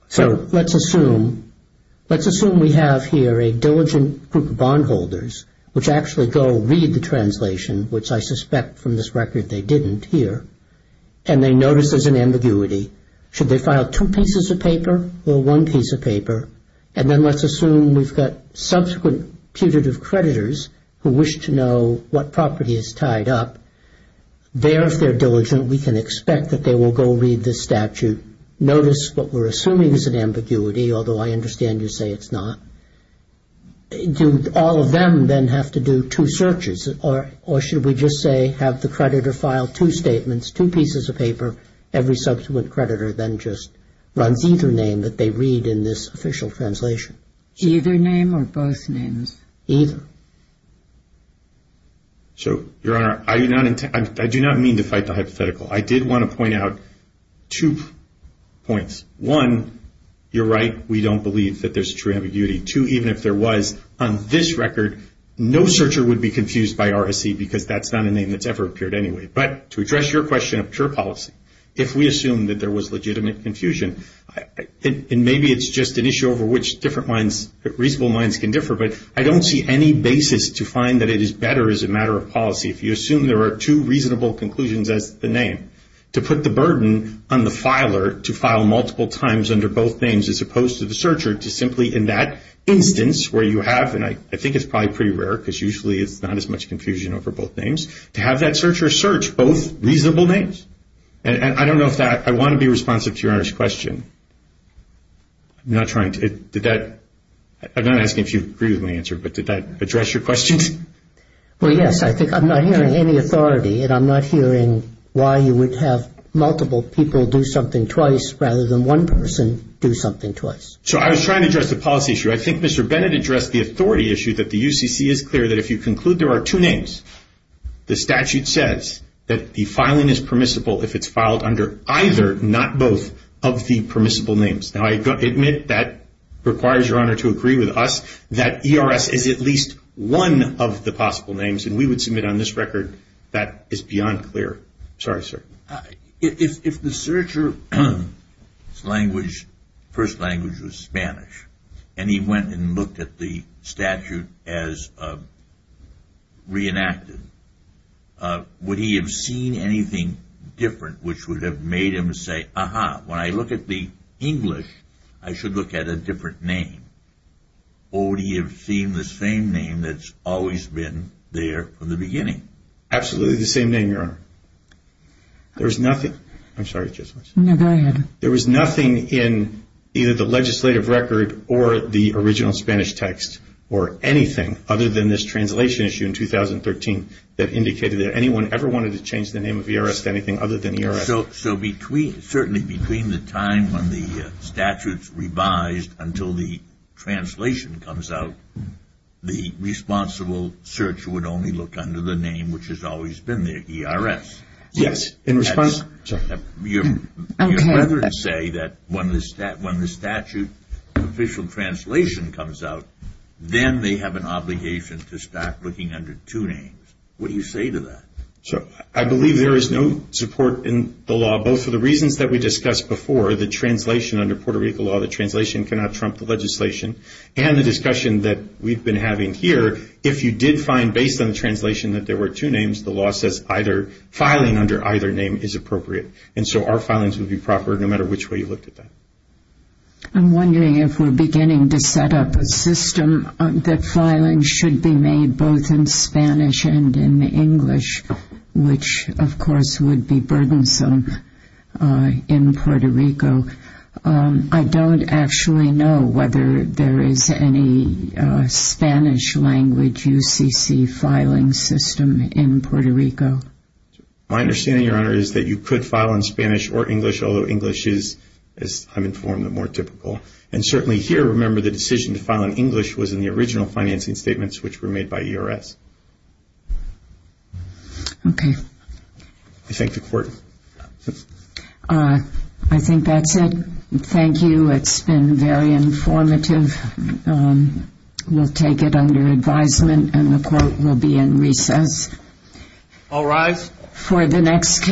So let's assume we have here a diligent group of bondholders which actually go read the translation, which I suspect from this record they didn't hear, and they notice there's an ambiguity. Should they file two pieces of paper or one piece of paper? And then let's assume we've got subsequent putative creditors who wish to know what property is tied up. There, if they're diligent, we can expect that they will go read this statute. Notice what we're assuming is an ambiguity, although I understand you say it's not. Do all of them then have to do two searches, or should we just say have the creditor file two statements, two pieces of paper, every subsequent creditor then just run either name that they read in this official translation? Either name or both names. Either. So, Your Honor, I do not mean to fight the hypothetical. I did want to point out two points. One, you're right, we don't believe that there's true ambiguity. Two, even if there was, on this record, no searcher would be confused by RSE, because that's not a name that's ever appeared anyway. But to address your question of true policy, if we assume that there was legitimate confusion, and maybe it's just an issue over which different minds, reasonable minds can differ, but I don't see any basis to find that it is better as a matter of policy if you assume there are two reasonable conclusions as the name. To put the burden on the filer to file multiple times under both names as opposed to the searcher to simply, in that instance, where you have, and I think it's probably pretty rare, because usually it's not as much confusion over both names, to have that searcher search both reasonable names. And I don't know if that, I want to be responsive to Your Honor's question. I'm not trying to, did that, I'm not asking if you agree with my answer, but did that address your question? Well, yes, I think, I'm not hearing any authority, and I'm not hearing why you would have multiple people do something twice rather than one person do something twice. So, I was trying to address the policy issue. I think Mr. Bennett addressed the authority issue that the UCC is clear that if you conclude there are two names, the statute says that the filing is permissible if it's filed under either, not both, of the permissible names. Now, I admit that requires Your Honor to agree with us that ERS is at least one of the possible names, and we would submit on this record that is beyond clear. Sorry, sir. If the searcher's language, first language was Spanish, and he went and looked at the statute as reenacted, would he have seen anything different which would have made him say, aha, when I look at the English, I should look at a different name, or would he have seen the same name that's always been there from the beginning? Absolutely the same name, Your Honor. There was nothing, I'm sorry, just one second. No, go ahead. There was nothing in either the legislative record or the original Spanish text or anything other than this translation issue in 2013 that indicated that anyone ever wanted to change the name of ERS to anything other than ERS. So certainly between the time when the statute's revised until the translation comes out, the responsible searcher would only look under the name which has always been there, ERS. Yes. In response? Your Honor would say that when the statute's official translation comes out, then they have an obligation to stop looking under two names. What do you say to that? Sure. I believe there is no support in the law, both for the reasons that we discussed before, the translation under Puerto Rico law, the translation cannot trump the legislation, and the discussion that we've been having here, if you did find based on the translation that there were two names, the law says filing under either name is appropriate. And so our filings would be proper no matter which way you looked at that. I'm wondering if we're beginning to set up a system that filings should be made both in Spanish and in English, which, of course, would be burdensome in Puerto Rico. I don't actually know whether there is any Spanish language UCC filing system in Puerto Rico. My understanding, Your Honor, is that you could file in Spanish or English, although English is, as I'm informed, the more typical. And certainly here, remember, the decision to file in English was in the original financing statements, which were made by ERS. Okay. I thank the Court. I think that's it. Thank you. It's been very informative. We'll take it under advisement, and the Court will be in recess. All rise. For the next case.